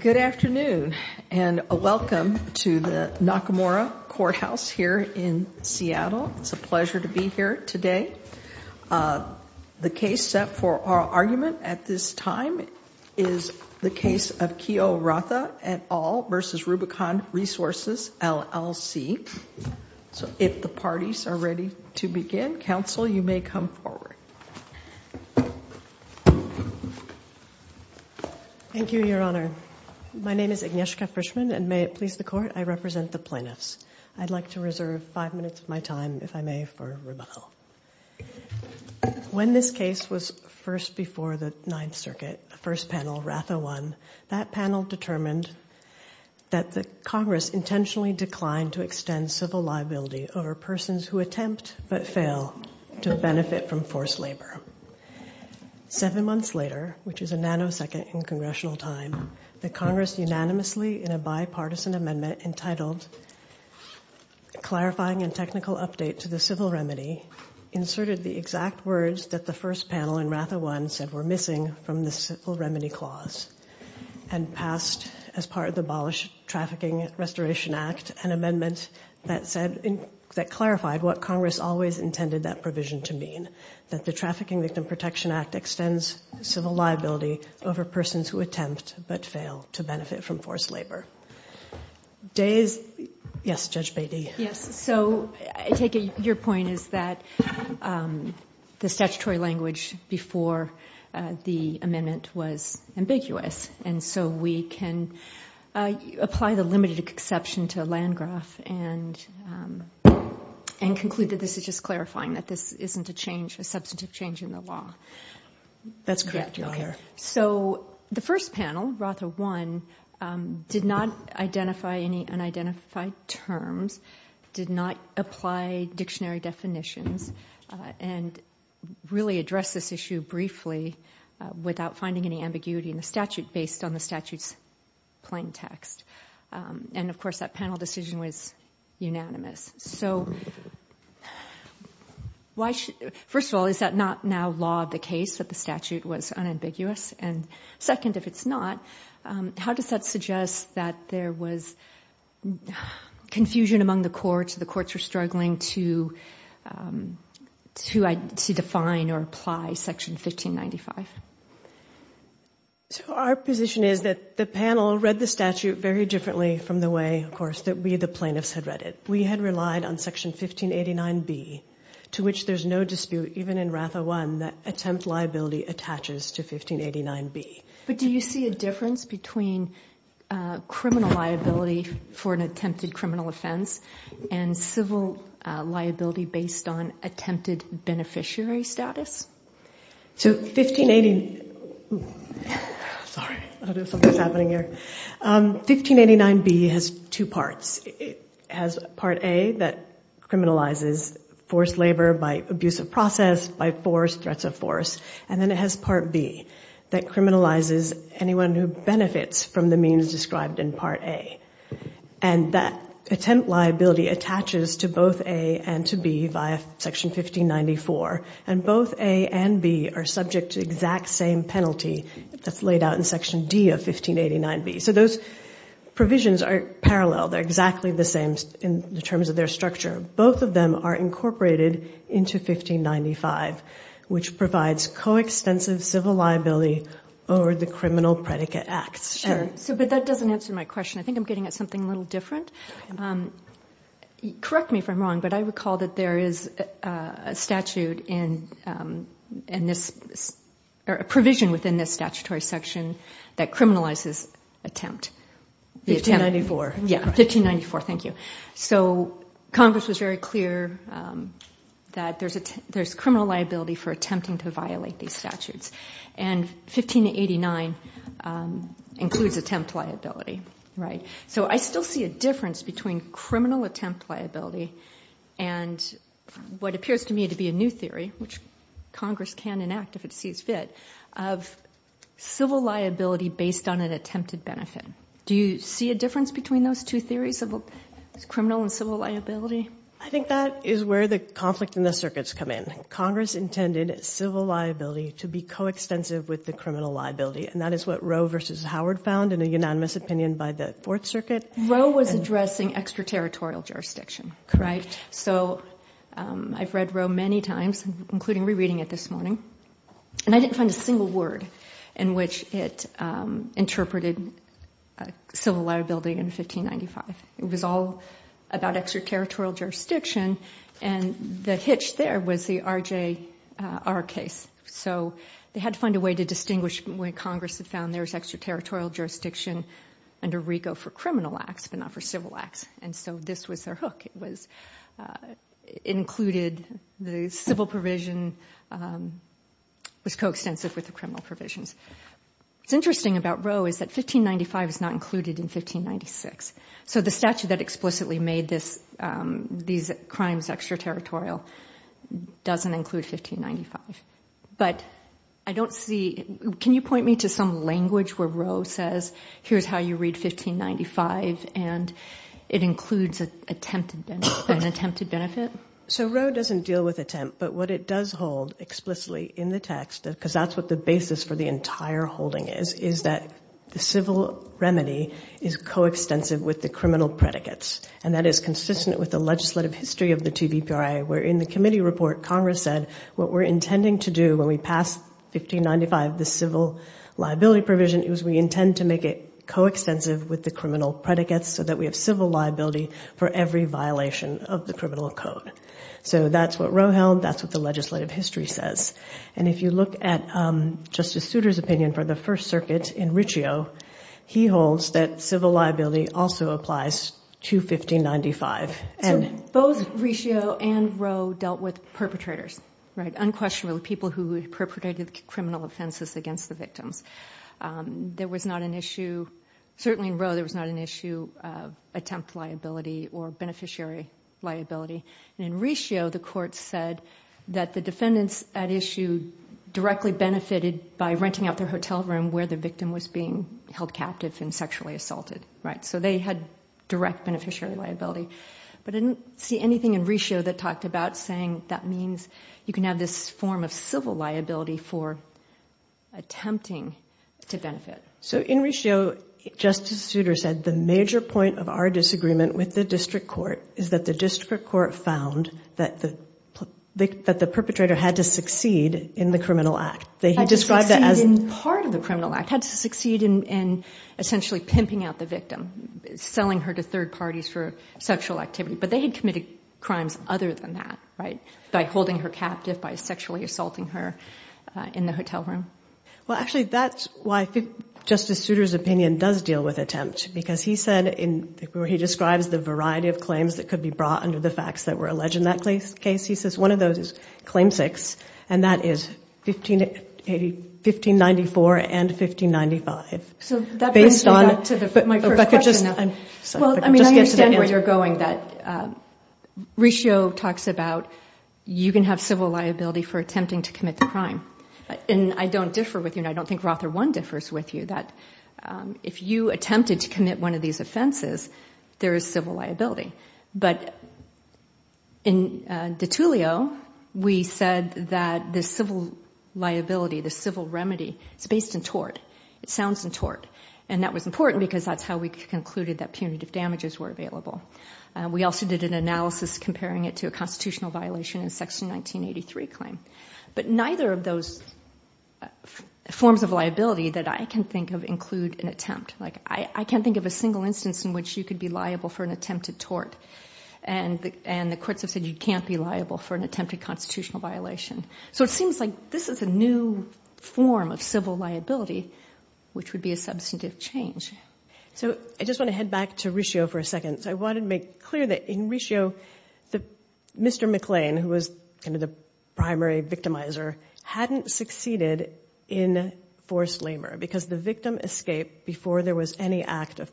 Good afternoon and welcome to the Nakamura Courthouse here in Seattle. It's a pleasure to be here today. The case set for our argument at this time is the case of Keo Ratha et al. v. Rubicon Resources, LLC. So if the parties are ready to begin, counsel, you may come forward. Thank you, Your Honor. My name is Agnieszka Frischman, and may it please the Court, I represent the plaintiffs. I'd like to reserve five minutes of my time, if I may, for rebuttal. When this case was first before the Ninth Circuit, the first panel, Ratha I, that panel determined that the Congress intentionally declined to extend civil liability over persons who attempt but fail to benefit from forced labor. Seven months later, which is a nanosecond in Congressional time, the Congress unanimously in a bipartisan amendment entitled Clarifying a Technical Update to the Civil Remedy inserted the exact words that the first panel in Ratha I said were missing from the Civil Remedy Clause and passed as part of the Abolished Trafficking Restoration Act, an amendment that clarified what Congress always intended that provision to mean, that the Trafficking Victim Protection Act extends civil liability over persons who attempt but fail to benefit from forced labor. Yes, Judge Beatty. Yes, so I take it your point is that the statutory language before the amendment was ambiguous, and so we can apply the limited exception to Landgraf and conclude that this is just clarifying, that this isn't a change, a substantive change in the law. That's correct, Your Honor. So the first panel, Ratha I, did not identify any unidentified terms, did not apply dictionary definitions, and really addressed this issue briefly without finding any ambiguity in the statute based on the statute's plain text. And of course that panel decision was unanimous. So first of all, is that not now law of the case that the statute was unambiguous? And second, if it's not, how does that suggest that there was confusion among the courts, the courts were struggling to define or apply Section 1595? So our position is that the panel read the statute very differently from the way, of course, that we the plaintiffs had read it. We had relied on Section 1589B, to which there's no dispute even in Ratha I that attempt liability attaches to 1589B. But do you see a difference between criminal liability for an attempted criminal offense and civil liability based on attempted beneficiary status? Sorry, something's happening here. 1589B has two parts. It has Part A that criminalizes forced labor by abuse of process, by force, threats of force. And then it has Part B that criminalizes anyone who benefits from the means described in Part A. And that attempt liability attaches to both A and to B via Section 1594. And both A and B are subject to the exact same penalty that's laid out in Section D of 1589B. So those provisions are parallel. They're exactly the same in terms of their structure. Both of them are incorporated into 1595, which provides co-expensive civil liability over the criminal predicate act. But that doesn't answer my question. I think I'm getting at something a little different. Correct me if I'm wrong, but I recall that there is a provision within this statutory section that criminalizes attempt. 1594. Yeah, 1594. Thank you. So Congress was very clear that there's criminal liability for attempting to violate these statutes. And 1589 includes attempt liability. Right. So I still see a difference between criminal attempt liability and what appears to me to be a new theory, which Congress can enact if it sees fit, of civil liability based on an attempted benefit. Do you see a difference between those two theories of criminal and civil liability? I think that is where the conflict in the circuits come in. Congress intended civil liability to be co-extensive with the criminal liability. And that is what Roe versus Howard found in a unanimous opinion by the Fourth Circuit. Roe was addressing extraterritorial jurisdiction. So I've read Roe many times, including rereading it this morning. And I didn't find a single word in which it interpreted civil liability in 1595. It was all about extraterritorial jurisdiction. And the hitch there was the RJR case. So they had to find a way to distinguish when Congress had found there was extraterritorial jurisdiction and a rego for criminal acts but not for civil acts. And so this was their hook. It included the civil provision was co-extensive with the criminal provisions. What's interesting about Roe is that 1595 is not included in 1596. So the statute that explicitly made these crimes extraterritorial doesn't include 1595. But I don't see – can you point me to some language where Roe says, here's how you read 1595, and it includes an attempted benefit? So Roe doesn't deal with attempt. But what it does hold explicitly in the text, because that's what the basis for the entire holding is, is that the civil remedy is co-extensive with the criminal predicates. And that is consistent with the legislative history of the TBPRI. Where in the committee report, Congress said what we're intending to do when we pass 1595, the civil liability provision, is we intend to make it co-extensive with the criminal predicates so that we have civil liability for every violation of the criminal code. So that's what Roe held. That's what the legislative history says. And if you look at Justice Souter's opinion for the First Circuit in Riccio, he holds that civil liability also applies to 1595. And both Riccio and Roe dealt with perpetrators, unquestionably people who perpetrated criminal offenses against the victim. There was not an issue – certainly in Roe, there was not an issue of attempt liability or beneficiary liability. In Riccio, the court said that the defendants at issue directly benefited by renting out their hotel room where the victim was being held captive and sexually assaulted. So they had direct beneficiary liability. But I didn't see anything in Riccio that talked about saying that means you can have this form of civil liability for attempting to benefit. So in Riccio, Justice Souter said the major point of our disagreement with the district court is that the district court found that the perpetrator had to succeed in the criminal act. Part of the criminal act had to succeed in essentially pimping out the victim, selling her to third parties for sexual activity. But they had committed crimes other than that, right? Like holding her captive by sexually assaulting her in the hotel room. Well, actually, that's why I think Justice Souter's opinion does deal with attempt. Because he said – or he described the variety of claims that could be brought under the facts that were alleged in that case. He says one of those is claim six. And that is 1594 and 1595. So that brings me back to my first question. Well, I mean, I understand where you're going. But Riccio talks about you can have civil liability for attempting to commit a crime. And I don't differ with you. I don't think Rother 1 differs with you. That if you attempted to commit one of these offenses, there is civil liability. But in de Tullio, we said that the civil liability, the civil remedy, is based in tort. It sounds in tort. And that was important because that's how we concluded that punitive damages were available. We also did an analysis comparing it to a constitutional violation in Section 1983 claim. But neither of those forms of liability that I can think of include an attempt. Like I can't think of a single instance in which you could be liable for an attempted tort. And the cryptic said you can't be liable for an attempted constitutional violation. So it seems like this is a new form of civil liability, which would be a substantive change. So I just want to head back to Riccio for a second. I wanted to make clear that in Riccio, Mr. McLean, who was kind of the primary victimizer, hadn't succeeded in forced labor. Because the victim escaped before there was any act of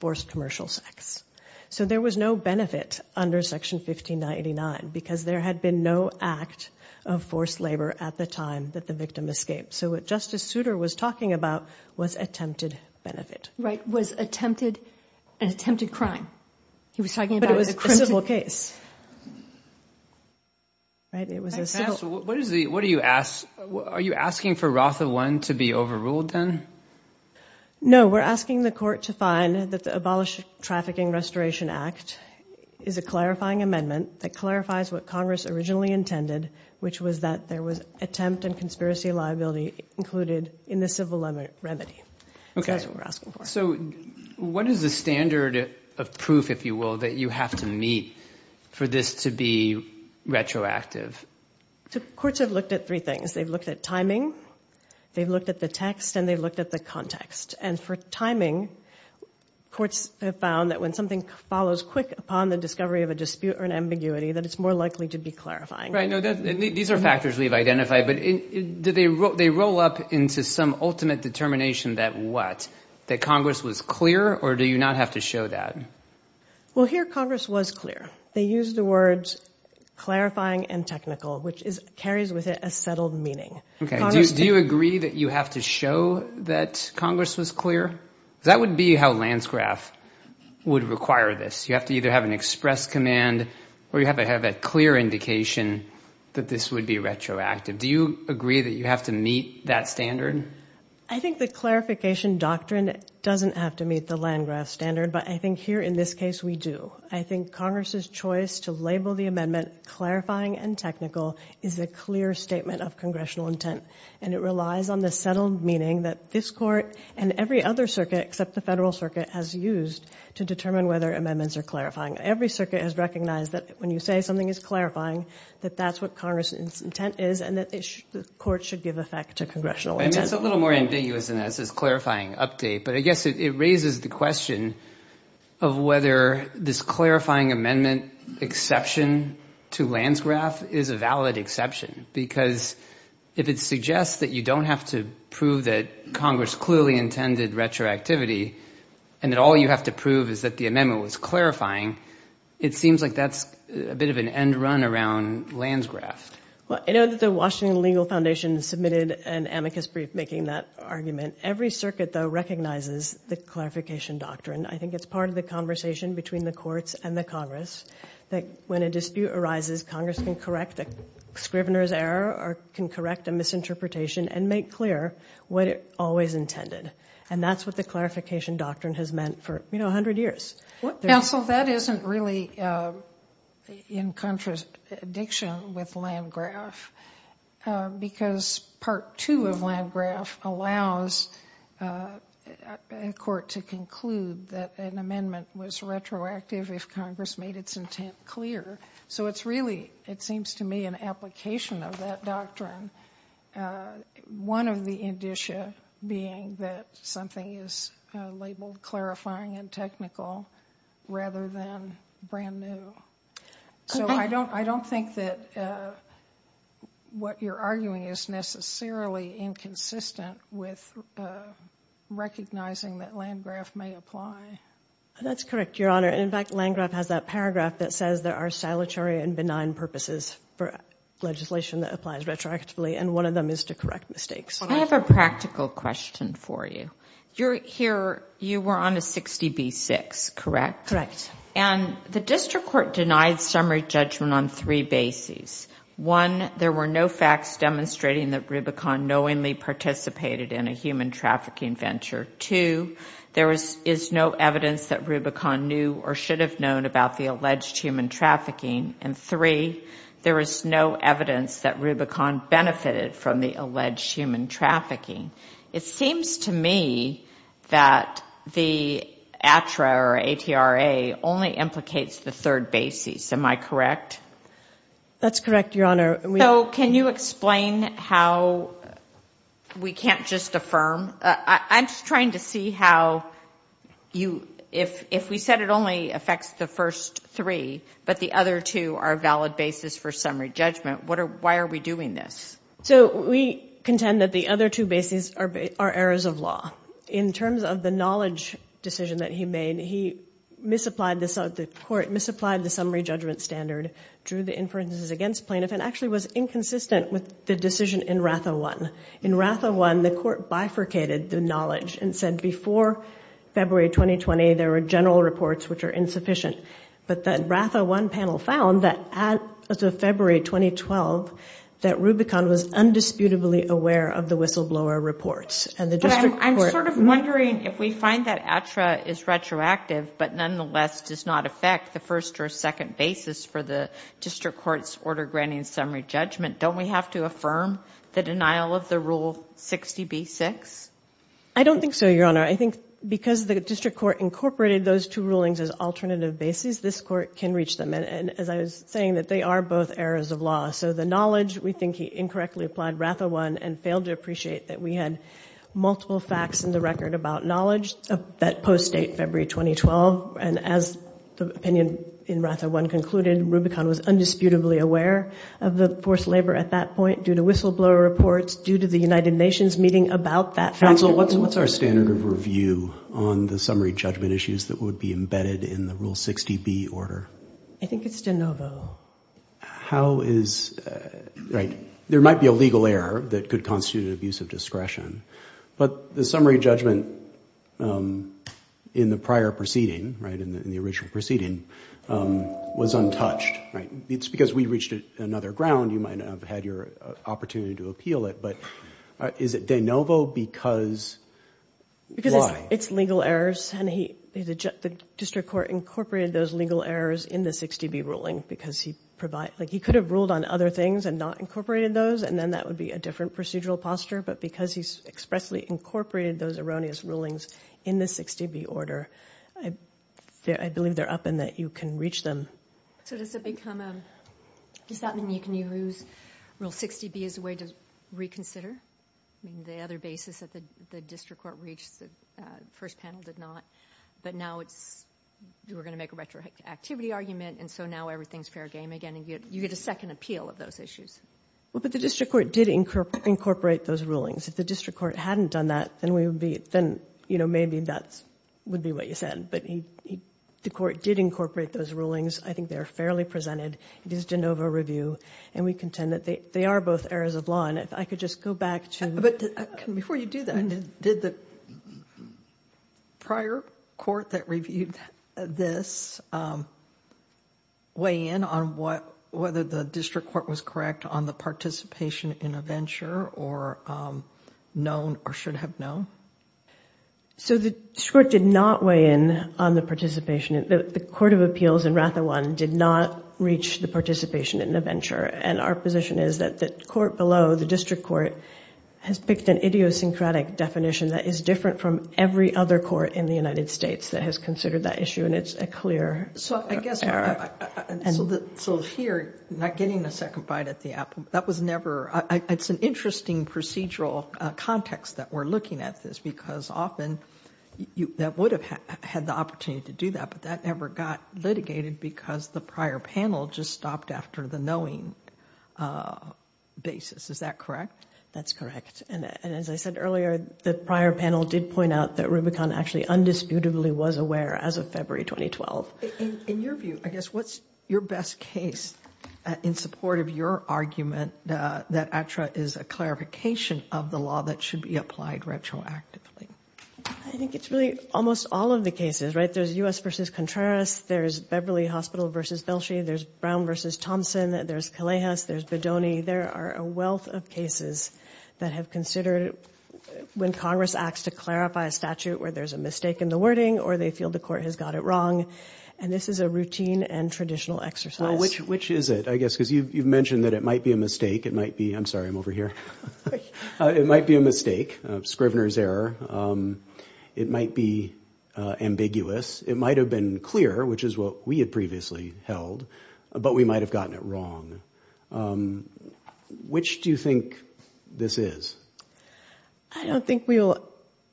forced commercial sex. So there was no benefit under Section 1599 because there had been no act of forced labor at the time that the victim escaped. So what Justice Souter was talking about was attempted benefit. Right, was attempted crime. He was talking about a criminal case. What do you ask? Are you asking for Routh of Lynn to be overruled then? No, we're asking the court to find that the Abolished Trafficking Restoration Act is a clarifying amendment that clarifies what Congress originally intended, which was that there was attempt and conspiracy liability included in the civil remedy. So what is the standard of proof, if you will, that you have to meet? For this to be retroactive? The courts have looked at three things. They've looked at timing, they've looked at the text, and they've looked at the context. And for timing, courts have found that when something follows quick upon the discovery of a dispute or an ambiguity, that it's more likely to be clarifying. These are factors we've identified, but do they roll up into some ultimate determination that what? That Congress was clear, or do you not have to show that? Well, here Congress was clear. They used the words clarifying and technical, which carries with it a settled meaning. Do you agree that you have to show that Congress was clear? That would be how Landgraf would require this. You have to either have an express command or you have to have a clear indication that this would be retroactive. Do you agree that you have to meet that standard? I think the clarification doctrine doesn't have to meet the Landgraf standard, but I think here in this case we do. I think Congress's choice to label the amendment clarifying and technical is a clear statement of congressional intent, and it relies on the settled meaning that this Court and every other circuit except the Federal Circuit has used to determine whether amendments are clarifying. Every circuit has recognized that when you say something is clarifying, that that's what Congress's intent is, and that this Court should give effect to congressional intent. It's a little more ambiguous than that, this clarifying update, but I guess it raises the question of whether this clarifying amendment exception to Landgraf is a valid exception, because if it suggests that you don't have to prove that Congress clearly intended retroactivity and that all you have to prove is that the amendment was clarifying, it seems like that's a bit of an end run around Landgraf. Well, I know that the Washington Legal Foundation submitted an amicus brief making that argument. Every circuit, though, recognizes the clarification doctrine. I think it's part of the conversation between the courts and the Congress that when a dispute arises, Congress can correct a scrivener's error or can correct a misinterpretation and make clear what it always intended, and that's what the clarification doctrine has meant for, you know, 100 years. Well, that isn't really in contrast to the diction with Landgraf, because Part 2 of Landgraf allows a court to conclude that an amendment was retroactive if Congress made its intent clear. So it's really, it seems to me, an application of that doctrine, one of the indicia being that something is labeled clarifying and technical rather than brand new. So I don't think that what you're arguing is necessarily inconsistent with recognizing that Landgraf may apply. That's correct, Your Honor. In fact, Landgraf has a paragraph that says there are solitary and benign purposes for legislation that applies retroactively, and one of them is to correct mistakes. I have a practical question for you. Here, you were on a 60B6, correct? Correct. And the district court denied summary judgment on three bases. One, there were no facts demonstrating that Rubicon knowingly participated in a human trafficking venture. Two, there is no evidence that Rubicon knew or should have known about the alleged human trafficking. And three, there is no evidence that Rubicon benefited from the alleged human trafficking. It seems to me that the ATRA or A-T-R-A only implicates the third basis. Am I correct? That's correct, Your Honor. So can you explain how we can't just affirm? I'm just trying to see how you – if we said it only affects the first three, but the other two are valid bases for summary judgment, why are we doing this? So we contend that the other two bases are errors of law. In terms of the knowledge decision that he made, he misapplied the summary judgment standard, drew the inferences against plaintiff, and actually was inconsistent with the decision in RATHA 1. In RATHA 1, the court bifurcated the knowledge and said before February 2020, there were general reports which are insufficient. But the RATHA 1 panel found that as of February 2012, that Rubicon was undisputably aware of the whistleblower reports. I'm sort of wondering if we find that ATRA is retroactive, but nonetheless does not affect the first or second basis for the district court's order granting summary judgment, don't we have to affirm the denial of the Rule 60B-6? I don't think so, Your Honor. I think because the district court incorporated those two rulings as alternative bases, this court can reach them. And as I was saying, that they are both errors of law. So the knowledge, we think he incorrectly applied RATHA 1 and failed to appreciate that we had multiple facts in the record about knowledge that post-date February 2012. And as the opinion in RATHA 1 concluded, Rubicon was undisputably aware of the forced labor at that point due to whistleblower reports, due to the United Nations meeting about that fact. Counsel, what's our standard of review on the summary judgment issues that would be embedded in the Rule 60B order? I think it's de novo. How is, right, there might be a legal error that could constitute an abuse of discretion. But the summary judgment in the prior proceeding, right, in the original proceeding, was untouched, right? It's because we reached another ground. You might not have had your opportunity to appeal it. But is it de novo because why? Because it's legal errors, and the district court incorporated those legal errors in the 60B ruling because he could have ruled on other things and not incorporated those, and then that would be a different procedural posture. But because he expressly incorporated those erroneous rulings in the 60B order, I believe they're up and that you can reach them. So does it become a, does that mean you can use Rule 60B as a way to reconsider the other basis that the district court reached, the first panel did not, but now we're going to make a retroactivity argument, and so now everything's fair game again. You get a second appeal of those issues. Well, but the district court did incorporate those rulings. If the district court hadn't done that, then we would be, then, you know, maybe that would be what you said. But the court did incorporate those rulings. I think they're fairly presented. It is de novo review, and we contend that they are both errors of law. And if I could just go back to the— But before you do that, did the prior court that reviewed this weigh in on whether the district court was correct on the participation in a venture, or known or should have known? So the court did not weigh in on the participation. The Court of Appeals in Ratha 1 did not reach the participation in the venture, and our position is that the court below, the district court, has picked an idiosyncratic definition that is different from every other court in the United States that has considered that issue, and it's a clear error. So I guess—so here, not getting the second bite at the apple, that was never— it's an interesting procedural context that we're looking at this, because often that would have had the opportunity to do that, but that never got litigated because the prior panel just stopped after the knowing basis. Is that correct? That's correct. And as I said earlier, the prior panel did point out that Rubicon actually undisputably was aware as of February 2012. In your view, I guess, what's your best case in support of your argument that ACTRA is a clarification of the law that should be applied retroactively? I think it's really almost all of the cases, right? There's U.S. v. Contreras. There's Beverly Hospital v. Belshi. There's Brown v. Thompson. There's Calejas. There's Bedoni. There are a wealth of cases that have considered when Congress acts to clarify a statute where there's a mistake in the wording or they feel the court has got it wrong, and this is a routine and traditional exercise. Well, which is it, I guess, because you've mentioned that it might be a mistake. It might be—I'm sorry, I'm over here. It might be a mistake, Scrivener's error. It might be ambiguous. It might have been clear, which is what we had previously held, but we might have gotten it wrong. Which do you think this is? I don't think we'll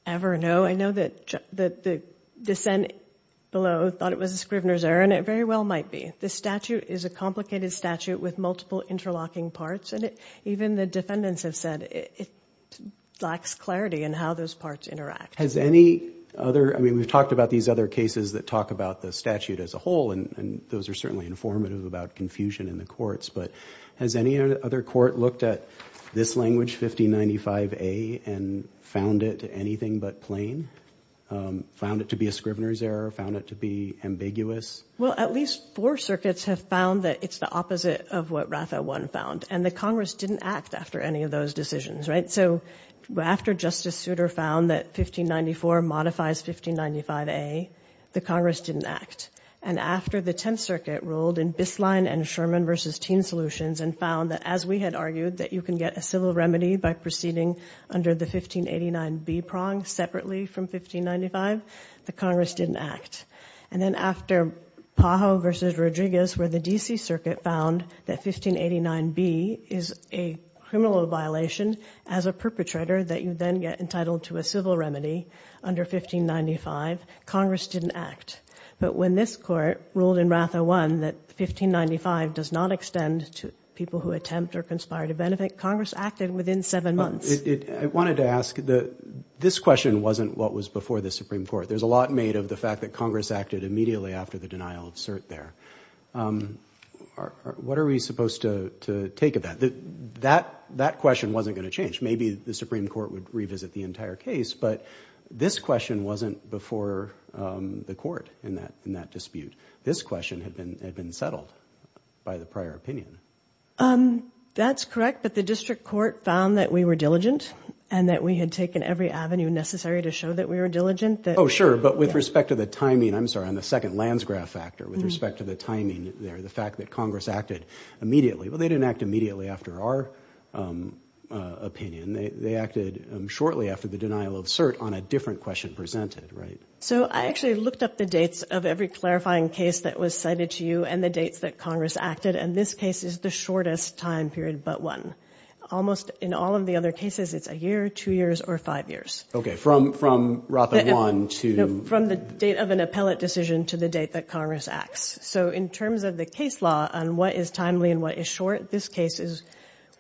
ever know. I know that the dissent below thought it was a Scrivener's error, and it very well might be. This statute is a complicated statute with multiple interlocking parts, and even the defendants have said it lacks clarity in how those parts interact. Has any other—I mean, we've talked about these other cases that talk about the statute as a whole, and those are certainly informative about confusion in the courts, but has any other court looked at this language, 1595A, and found it anything but plain, found it to be a Scrivener's error, found it to be ambiguous? Well, at least four circuits have found that it's the opposite of what Rafa 1 found, and the Congress didn't act after any of those decisions, right? So after Justice Souter found that 1594 modifies 1595A, the Congress didn't act, and after the Tenth Circuit ruled in Biskline and Sherman v. Teen Solutions and found that, as we had argued, that you can get a civil remedy by proceeding under the 1589B prong separately from 1595, the Congress didn't act. And then after Pajo v. Rodriguez, where the D.C. Circuit found that 1589B is a criminal violation as a perpetrator that you then get entitled to a civil remedy under 1595, Congress didn't act. But when this court ruled in Rafa 1 that 1595 does not extend to people who attempt or conspire to benefit, Congress acted within seven months. I wanted to ask, this question wasn't what was before the Supreme Court. There's a lot made of the fact that Congress acted immediately after the denial of cert there. What are we supposed to take of that? That question wasn't going to change. Which maybe the Supreme Court would revisit the entire case, but this question wasn't before the court in that dispute. This question had been settled by the prior opinion. That's correct, but the district court found that we were diligent and that we had taken every avenue necessary to show that we were diligent. Oh, sure, but with respect to the timing, I'm sorry, on the second Lansgraf factor, with respect to the timing there, the fact that Congress acted immediately. Well, they didn't act immediately after our opinion. They acted shortly after the denial of cert on a different question presented. So I actually looked up the dates of every clarifying case that was cited to you and the dates that Congress acted, and this case is the shortest time period but one. Almost in all of the other cases, it's a year, two years, or five years. Okay, from Rafa 1 to... From the date of an appellate decision to the date that Congress acts. So in terms of the case law on what is timely and what is short, this case is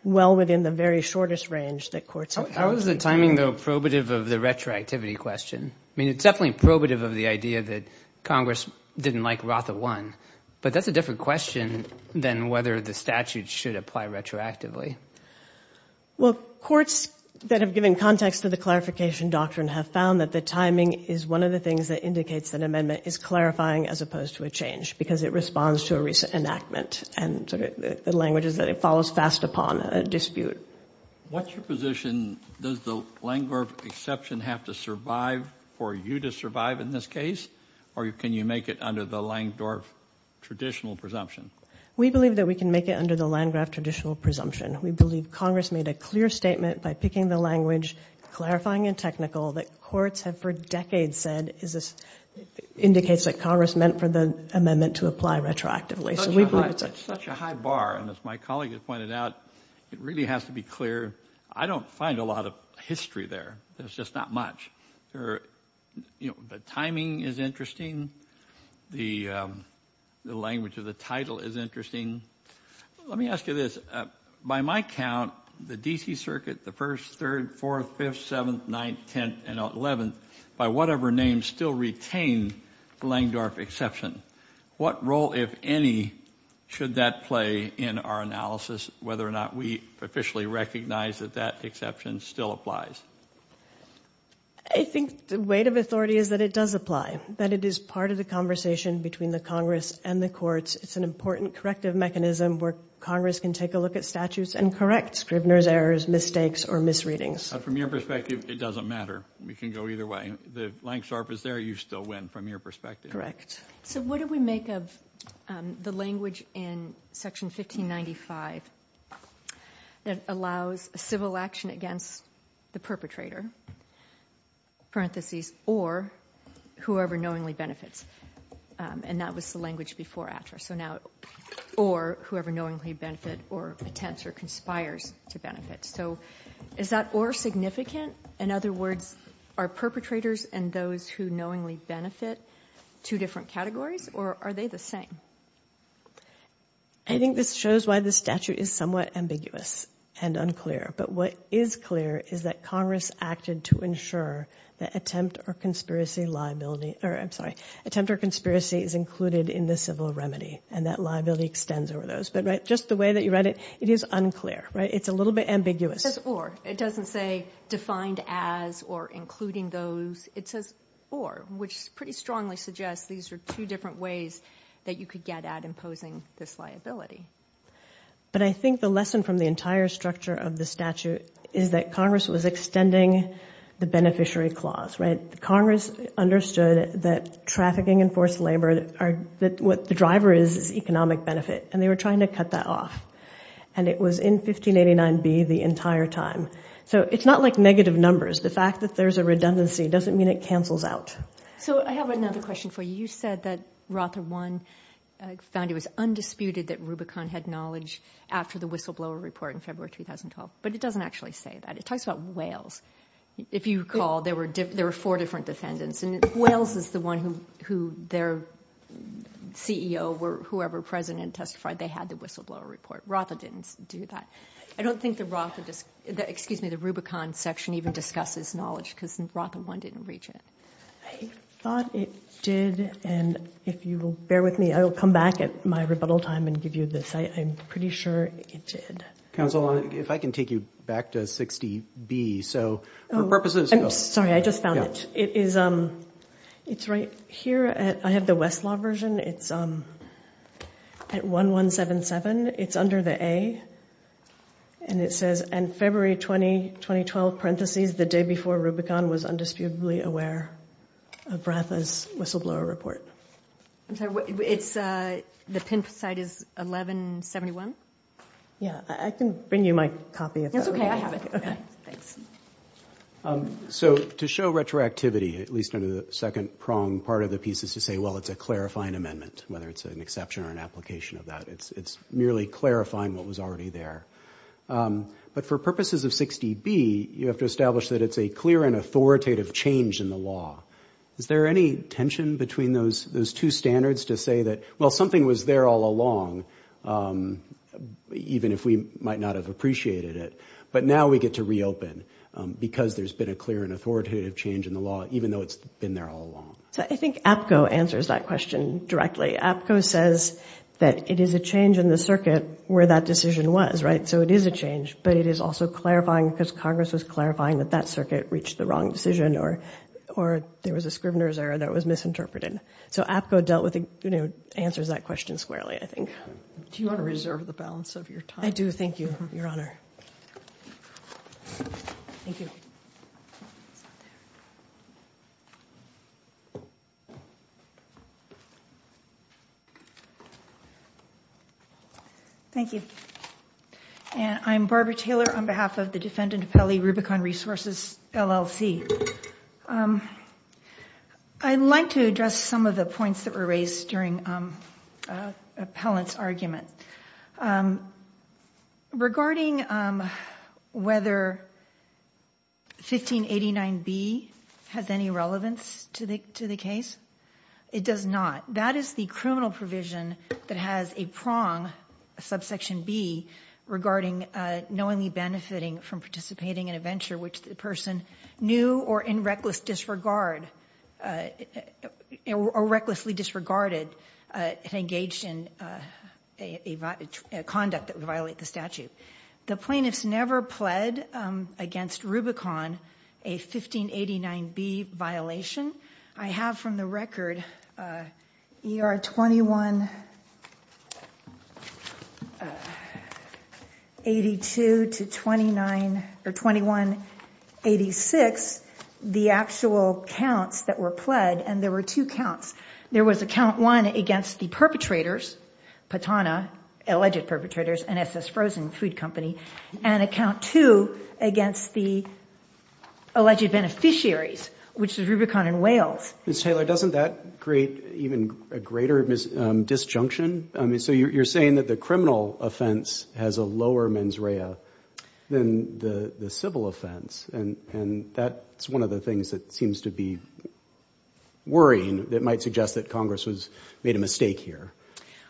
well within the very shortest range that courts... How is the timing though probative of the retroactivity question? I mean, it's definitely probative of the idea that Congress didn't like Rafa 1, but that's a different question than whether the statute should apply retroactively. Well, courts that have given context to the clarification doctrine have found that the timing is one of the things that indicates that an amendment is clarifying as opposed to a change because it responds to a recent enactment and the language is that it follows fast upon a dispute. What's your position? Does the Langdorf exception have to survive for you to survive in this case, or can you make it under the Langdorf traditional presumption? We believe that we can make it under the Langdorf traditional presumption. We believe Congress made a clear statement by picking the language, clarifying and technical, that courts have for decades said indicates that Congress meant for the amendment to apply retroactively. It's such a high bar, and as my colleague has pointed out, it really has to be clear. I don't find a lot of history there. There's just not much. The timing is interesting. The language of the title is interesting. Let me ask you this. By my count, the D.C. Circuit, the 1st, 3rd, 4th, 5th, 7th, 9th, 10th and 11th, by whatever name, still retain the Langdorf exception. What role, if any, should that play in our analysis, whether or not we officially recognize that that exception still applies? I think the weight of authority is that it does apply, that it is part of the conversation between the Congress and the courts. It's an important corrective mechanism where Congress can take a look at statutes and correct Scribner's errors, mistakes or misreadings. From your perspective, it doesn't matter. We can go either way. The Langdorf is there. You still win from your perspective. Correct. What do we make of the language in Section 1595 that allows civil action against the perpetrator, parentheses, or whoever knowingly benefits? And that was the language before AFTRA. So now, or whoever knowingly benefits or attempts or conspires to benefit. So is that or significant? In other words, are perpetrators and those who knowingly benefit two different categories, or are they the same? I think this shows why the statute is somewhat ambiguous and unclear. But what is clear is that Congress acted to ensure that attempt or conspiracy liability or, I'm sorry, attempt or conspiracy is included in the civil remedy and that liability extends over those. But just the way that you read it, it is unclear. It's a little bit ambiguous. It says or. It doesn't say defined as or including those. It says or, which pretty strongly suggests these are two different ways that you could get at imposing this liability. But I think the lesson from the entire structure of the statute is that Congress was extending the beneficiary clause. Congress understood that trafficking and forced labor are what the driver is, economic benefit, and they were trying to cut that off. And it was in 1589B the entire time. So it's not like negative numbers. The fact that there's a redundancy doesn't mean it cancels out. So I have another question for you. You said that Rother 1 found it was undisputed that Rubicon had knowledge after the whistleblower report in February 2012. But it doesn't actually say that. It talks about whales. If you recall, there were four different descendants. And whales is the one who their CEO or whoever president testified they had the whistleblower report. Rother didn't do that. I don't think the Rubicon section even discusses knowledge because Rother 1 didn't reach it. I thought it did, and if you will bear with me, I'll come back at my rebuttal time and give you this. I'm pretty sure it did. Counsel, if I can take you back to 60B. Sorry, I just found it. It's right here. I have the Westlaw version. It's at 1177. It's under the A, and it says, and February 20, 2012, parentheses, the day before Rubicon was undisturbedly aware of Rother's whistleblower report. The pin site is 1171? Yeah, I can bring you my copy. So to show retroactivity, at least under the second prong part of the piece is to say, well, it's a clarifying amendment, whether it's an exception or an application of that. It's merely clarifying what was already there. But for purposes of 60B, you have to establish that it's a clear and authoritative change in the law. Is there any tension between those two standards to say that, well, something was there all along, even if we might not have appreciated it, but now we get to reopen because there's been a clear and authoritative change in the law, even though it's been there all along? I think APCO answers that question directly. APCO says that it is a change in the circuit where that decision was, right? So it is a change, but it is also clarifying because Congress is clarifying that that circuit reached the wrong decision or there was a Scrivener's error that was misinterpreted. So APCO answers that question squarely, I think. Do you want to reserve the balance of your time? I do. Thank you, Your Honor. Thank you. Thank you. I'm Barbara Taylor on behalf of the defendant appellee Rubicon Resources, LLC. I'd like to address some of the points that were raised during the appellant's argument. Regarding whether 1589B has any relevance to the case, it does not. That is the criminal provision that has a prong, subsection B, regarding knowingly benefiting from participating in a venture which the person knew or in reckless disregard or recklessly disregarded if engaged in a conduct that would violate the statute. The plaintiff never pled against Rubicon a 1589B violation. I have from the record ER 21... ...82 to 2186, the actual counts that were pled, and there were two counts. There was a count one against the perpetrators, Patana, alleged perpetrators, NSS Frozen Food Company, and a count two against the alleged beneficiaries, which is Rubicon and Wales. Ms. Taylor, doesn't that create even a greater disjunction You're saying that the criminal offense has a lower mens rea than the civil offense, and that's one of the things that seems to be worrying that might suggest that Congress has made a mistake here.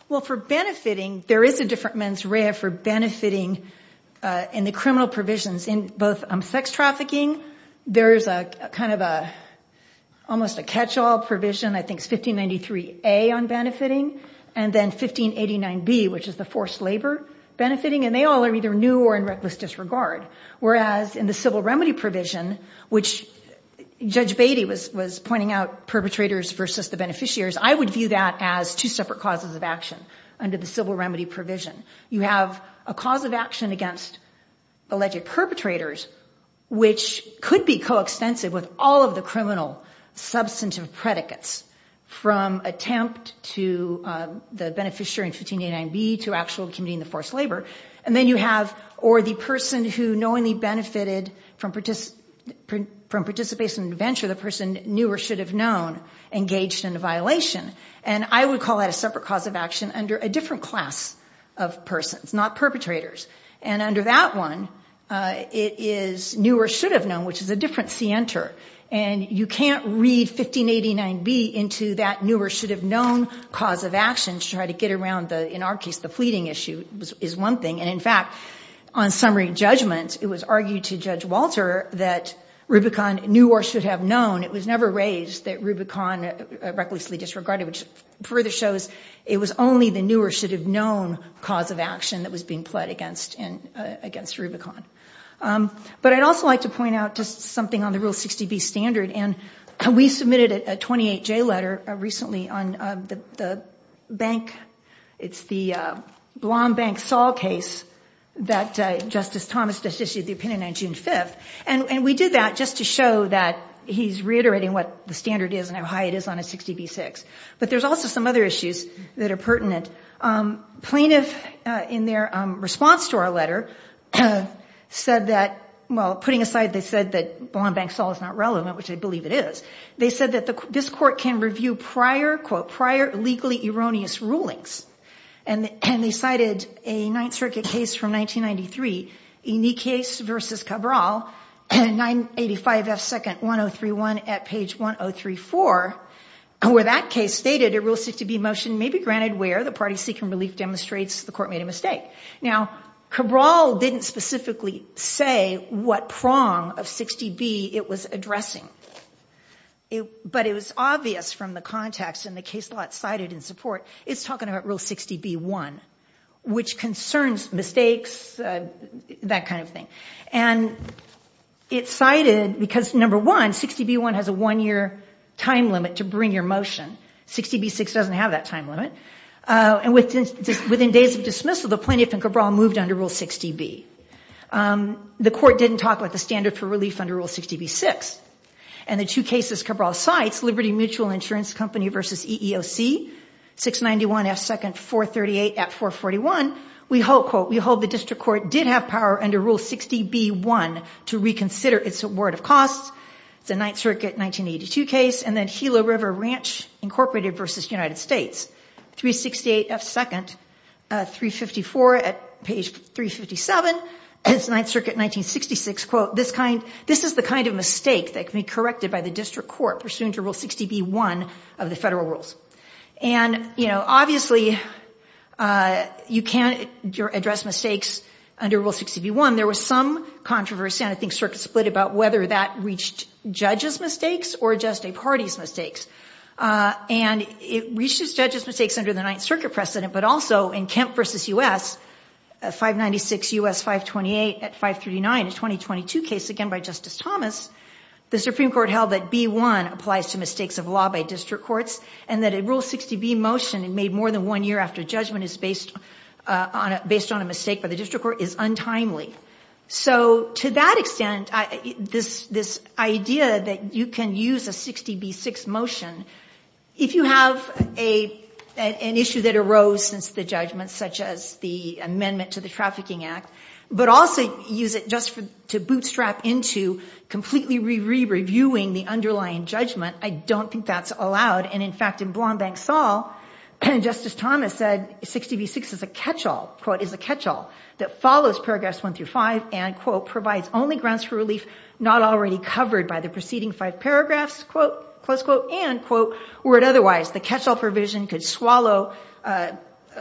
Well, for benefiting, there is a different mens rea for benefiting in the criminal provisions. In both sex trafficking, there's kind of almost a catch-all provision, I think, 1593A on benefiting, and then 1589B, which is the forced labor benefiting, and they all are either new or in reckless disregard, whereas in the civil remedy provision, which Judge Beatty was pointing out, perpetrators versus the beneficiaries, I would view that as two separate causes of action under the civil remedy provision. You have a cause of action against alleged perpetrators, which could be coextensive with all of the criminal substantive predicates from attempt to the beneficiary in 1589B to actual committing the forced labor, and then you have, or the person who knowingly benefited from participation in the venture, the person knew or should have known, engaged in a violation, and I would call that a separate cause of action under a different class of persons, not perpetrators, and under that one, it is knew or should have known, which is a different scienter, and you can't read 1589B into that knew or should have known cause of action to try to get around, in our case, the fleeting issue is one thing, and in fact, on summary judgment, it was argued to Judge Walter that Rubicon knew or should have known. It was never raised that Rubicon recklessly disregarded, which further shows it was only the knew or should have known cause of action that was being pled against Rubicon, but I'd also like to point out just something on the Rule 60B standard, and we submitted a 28J letter recently on the Blomb Bank Saul case that Justice Thomas just issued the opinion on June 5th, and we did that just to show that he's reiterating what the standard is and how high it is on a 60B6, but there's also some other issues that are pertinent. Plaintiffs, in their response to our letter, said that, well, putting aside they said that Blomb Bank Saul is not relevant, which I believe it is, they said that this court can review prior, quote, prior legally erroneous rulings, and they cited a Ninth Circuit case from 1993, a unique case versus Cabral, 985F2nd1031 at page 1034, where that case stated a Rule 60B motion may be granted where the party seeking relief demonstrates the court made a mistake. Now, Cabral didn't specifically say what prong of 60B it was addressing, but it was obvious from the context and the case law it cited in support, it's talking about Rule 60B1, which concerns mistakes, that kind of thing, and it's cited because, number one, 60B1 has a one-year time limit to bring your motion. 60B6 doesn't have that time limit, and within days of dismissal, the plaintiff and Cabral moved under Rule 60B. The court didn't talk about the standard for relief under Rule 60B6, and the two cases Cabral cites, Liberty Mutual Insurance Company versus EEOC, 691F2nd438 at 441, we hold, quote, we hold the district court did have power under Rule 60B1 to reconsider its award of costs, the Ninth Circuit 1982 case, and then Gila River Ranch Incorporated versus United States, 368F2nd354 at page 357, it's Ninth Circuit 1966, quote, this is the kind of mistake that can be corrected by the district court pursuant to Rule 60B1 of the federal rules, and, you know, obviously, you can't address mistakes under Rule 60B1. There was some controversy, and I think circuits split about whether that reached judges' mistakes or just a party's mistakes, and it reached judges' mistakes under the Ninth Circuit precedent, but also in Kemp versus U.S., 596U.S.528 at 539, a 2022 case, again, by Justice Thomas, the Supreme Court held that B1 applies to mistakes of law by district courts and that a Rule 60B motion made more than one year after judgment is based on a mistake by the district court is untimely. So, to that extent, this idea that you can use a 60B6 motion, if you have an issue that arose since the judgment, such as the amendment to the Trafficking Act, but also use it just to bootstrap into completely re-reviewing the underlying judgment, I don't think that's allowed, and, in fact, in Blonde and Saul, Justice Thomas said 60B6 is a catch-all, quote, is a catch-all, that follows Progress 1 through 5, and, quote, provides only grounds for relief not already covered by the preceding five paragraphs, quote, close quote, and, quote, were it otherwise, the catch-all provision could swallow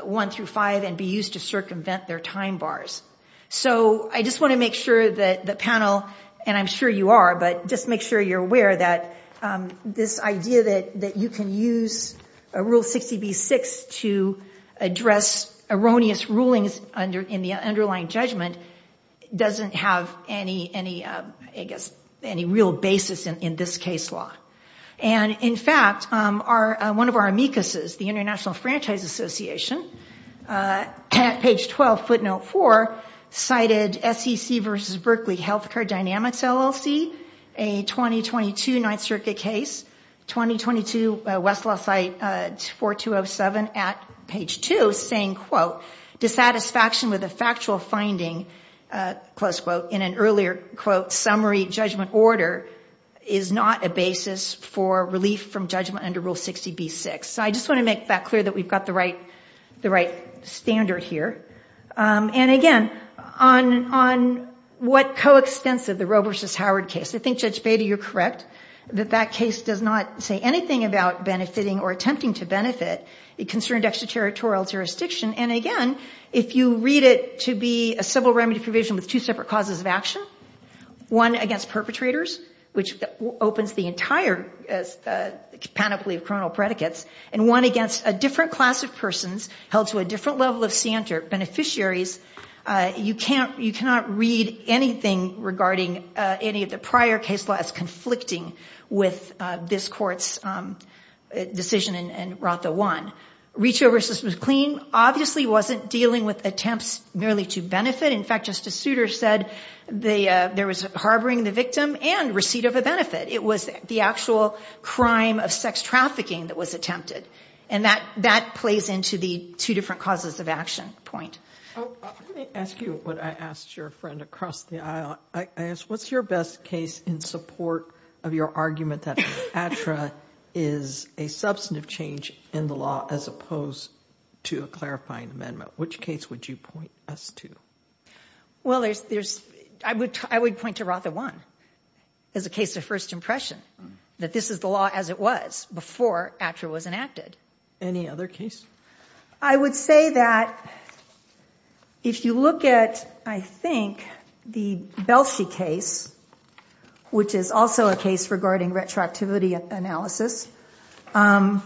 1 through 5 and be used to circumvent their time bars. So, I just want to make sure that the panel, and I'm sure you are, but just make sure you're aware that this idea that you can use a Rule 60B6 to address erroneous rulings in the underlying judgment, doesn't have any, I guess, any real basis in this case law. And, in fact, one of our amicuses, the International Franchise Association, at page 12, footnote 4, cited SEC versus Berkeley Healthcare Dynamics LLC, a 2022 Ninth Circuit case, 2022 Westlaw site 4207 at page 2, saying, quote, dissatisfaction with a factual finding, close quote, in an earlier, quote, summary judgment order is not a basis for relief from judgment under Rule 60B6. So, I just want to make that clear that we've got the right standard here. And, again, on what coextensive the Roe versus Howard case, I think Judge Bader, you're correct, that that case does not say anything about benefiting or attempting to benefit it concerned extraterritorial jurisdiction, and, again, if you read it to be a civil remedy provision with two separate causes of action, one against perpetrators, which opens the entire panoply of criminal predicates, and one against a different class of persons held to a different level of standard, beneficiaries, you cannot read anything regarding any of the prior case laws conflicting with this court's decision in RONTA 1. Reach over assistance was clean, obviously wasn't dealing with attempts merely to benefit. In fact, Justice Souter said there was harboring the victim and receipt of a benefit. It was the actual crime of sex trafficking that was attempted. And that plays into the two different causes of action point. I'm going to ask you what I asked your friend across the aisle. I asked, what's your best case in support of your argument that ATRA is a substantive change in the law as opposed to a clarifying amendment? Which case would you point us to? Well, I would point to RONTA 1 as a case of first impression, that this is the law as it was before ATRA was enacted. Any other case? I would say that if you look at, I think, the Belshi case, which is also a case regarding retroactivity analysis, and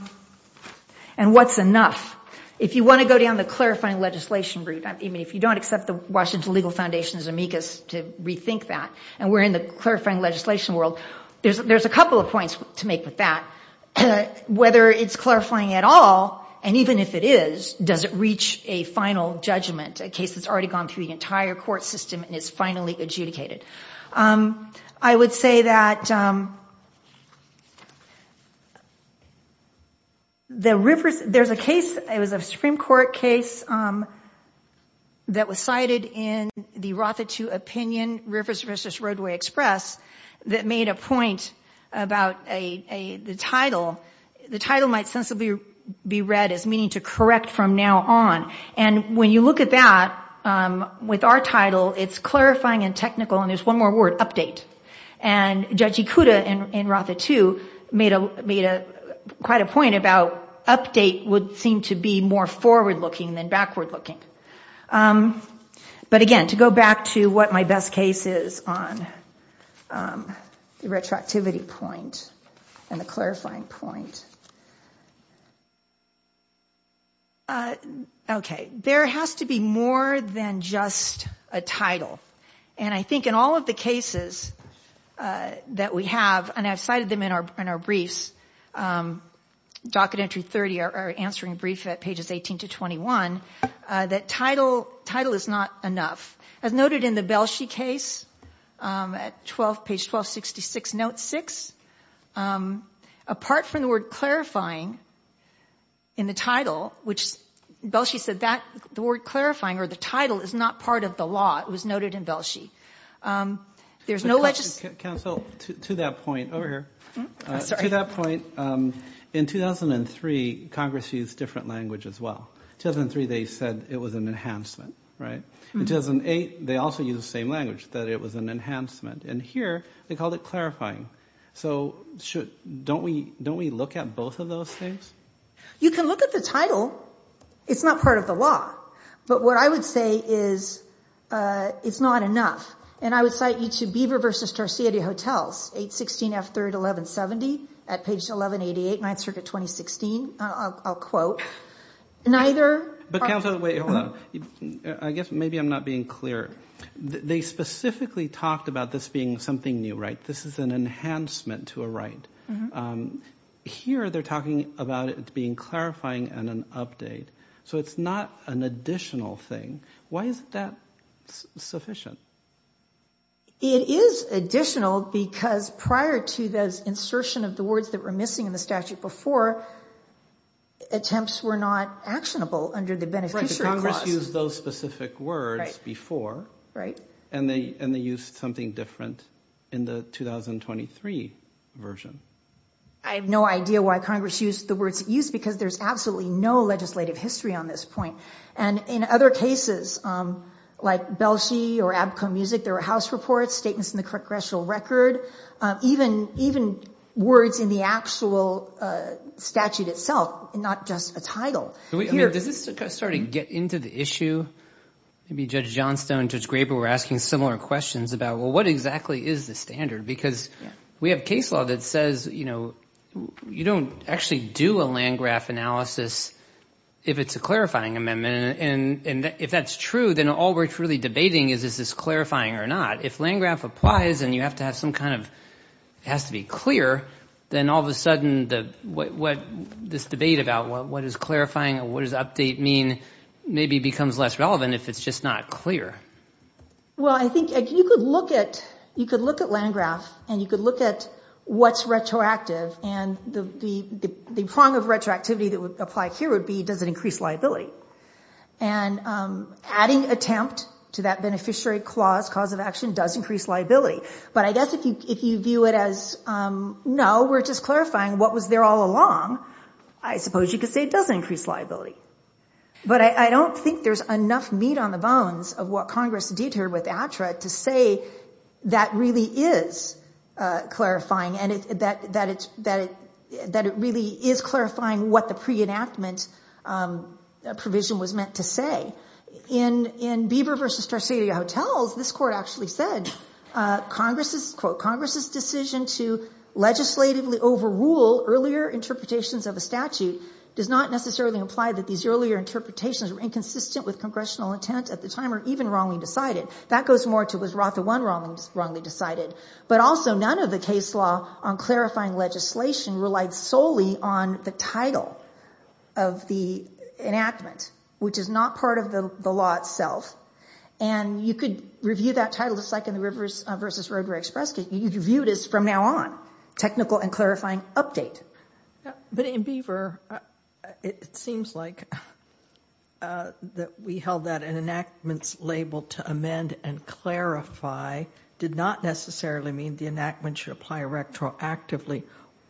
what's enough. If you want to go down the clarifying legislation route, if you don't accept the Washington Legal Foundation's amicus to rethink that, and we're in the clarifying legislation world, there's a couple of points to make with that. Whether it's clarifying at all, and even if it is, does it reach a final judgment, a case that's already gone through the entire court system and it's finally adjudicated? I would say that there's a case, it was a Supreme Court case that was cited in the ROTHA 2 opinion, Rivers v. Roadway Express, that made a point about the title. The title might sensibly be read as meaning to correct from now on, and when you look at that, with our title, it's clarifying and technical, and there's one more word, update. And Judge Ikuda in ROTHA 2 made quite a point about update would seem to be more forward-looking than backward-looking. But again, to go back to what my best case is on the retroactivity point and the clarifying point, there has to be more than just a title. And I think in all of the cases that we have, and I've cited them in our briefs, docket entry 30, our answering brief at pages 18 to 21, that title is not enough. As noted in the Belshey case, page 1266, note 6, apart from the word clarifying in the title, which Belshey said the word clarifying or the title is not part of the law, it was noted in Belshey. There's no... Counsel, to that point, over here. Sorry. To that point, in 2003, Congress used different language as well. 2003, they said it was an enhancement, right? In 2008, they also used the same language, that it was an enhancement. And here, they called it clarifying. So don't we look at both of those things? You can look at the title. It's not part of the law. But what I would say is it's not enough. And I would cite you to Beaver versus Tarsier hotels, 816 F3rd 1170, at page 1188, ninth circuit 2016. I'll quote. Neither... But counsel, wait a minute. I guess maybe I'm not being clear. They specifically talked about this being something new, right? This is an enhancement to a right. Here, they're talking about it being clarifying and an update. So it's not an additional thing. Why is that sufficient? It is additional because prior to the insertion of the words that were missing in the statute before, attempts were not actionable under the beneficiary clause. Congress used those specific words before. Right. And they used something different in the 2023 version. I have no idea why Congress used the words it used because there's absolutely no legislative history on this point. And in other cases, like Belshi or Abco Music, there were house reports, statements in the congressional record, even words in the actual statute itself, not just a title. Does this sort of get into the issue? Maybe Judge Johnstone, Judge Graber, were asking similar questions about, well, what exactly is the standard? Because we have case law that says, you know, you don't actually do a land graph analysis if it's a clarifying amendment. And if that's true, then all we're truly debating is, is this clarifying or not? If land graph applies and you have to have some kind of, it has to be clear, then all of a sudden, this debate about what is clarifying and what does update mean maybe becomes less relevant if it's just not clear. Well, I think if you could look at, you could look at land graphs and you could look at what's retroactive and the prong of retroactivity that would apply here would be, does it increase liability? And adding attempt to that beneficiary clause, cause of action, does increase liability. But I guess if you view it as, no, we're just clarifying what was there all along, I suppose you could say it doesn't increase liability. But I don't think there's enough meat on the bones of what Congress did here with ATRA to say that really is clarifying and that it really is clarifying what the pre-enactment provision was meant to say. In Beaver versus Tarsier hotels, this court actually said, quote, Congress's decision to legislatively overrule earlier interpretations of a statute does not necessarily imply that these earlier interpretations were inconsistent with congressional intent at the time or even wrongly decided. That goes more to, was ROTA one wrongly decided? But also none of the case law on clarifying legislation relied solely on the title of the enactment, which is not part of the law itself. And you could review that title, it's like in the Rivers versus Roadway Express case, you've reviewed it from now on, technical and clarifying update. But in Beaver, it seems like that we held that an enactment's label to amend and clarify did not necessarily mean the enactment should apply retroactively,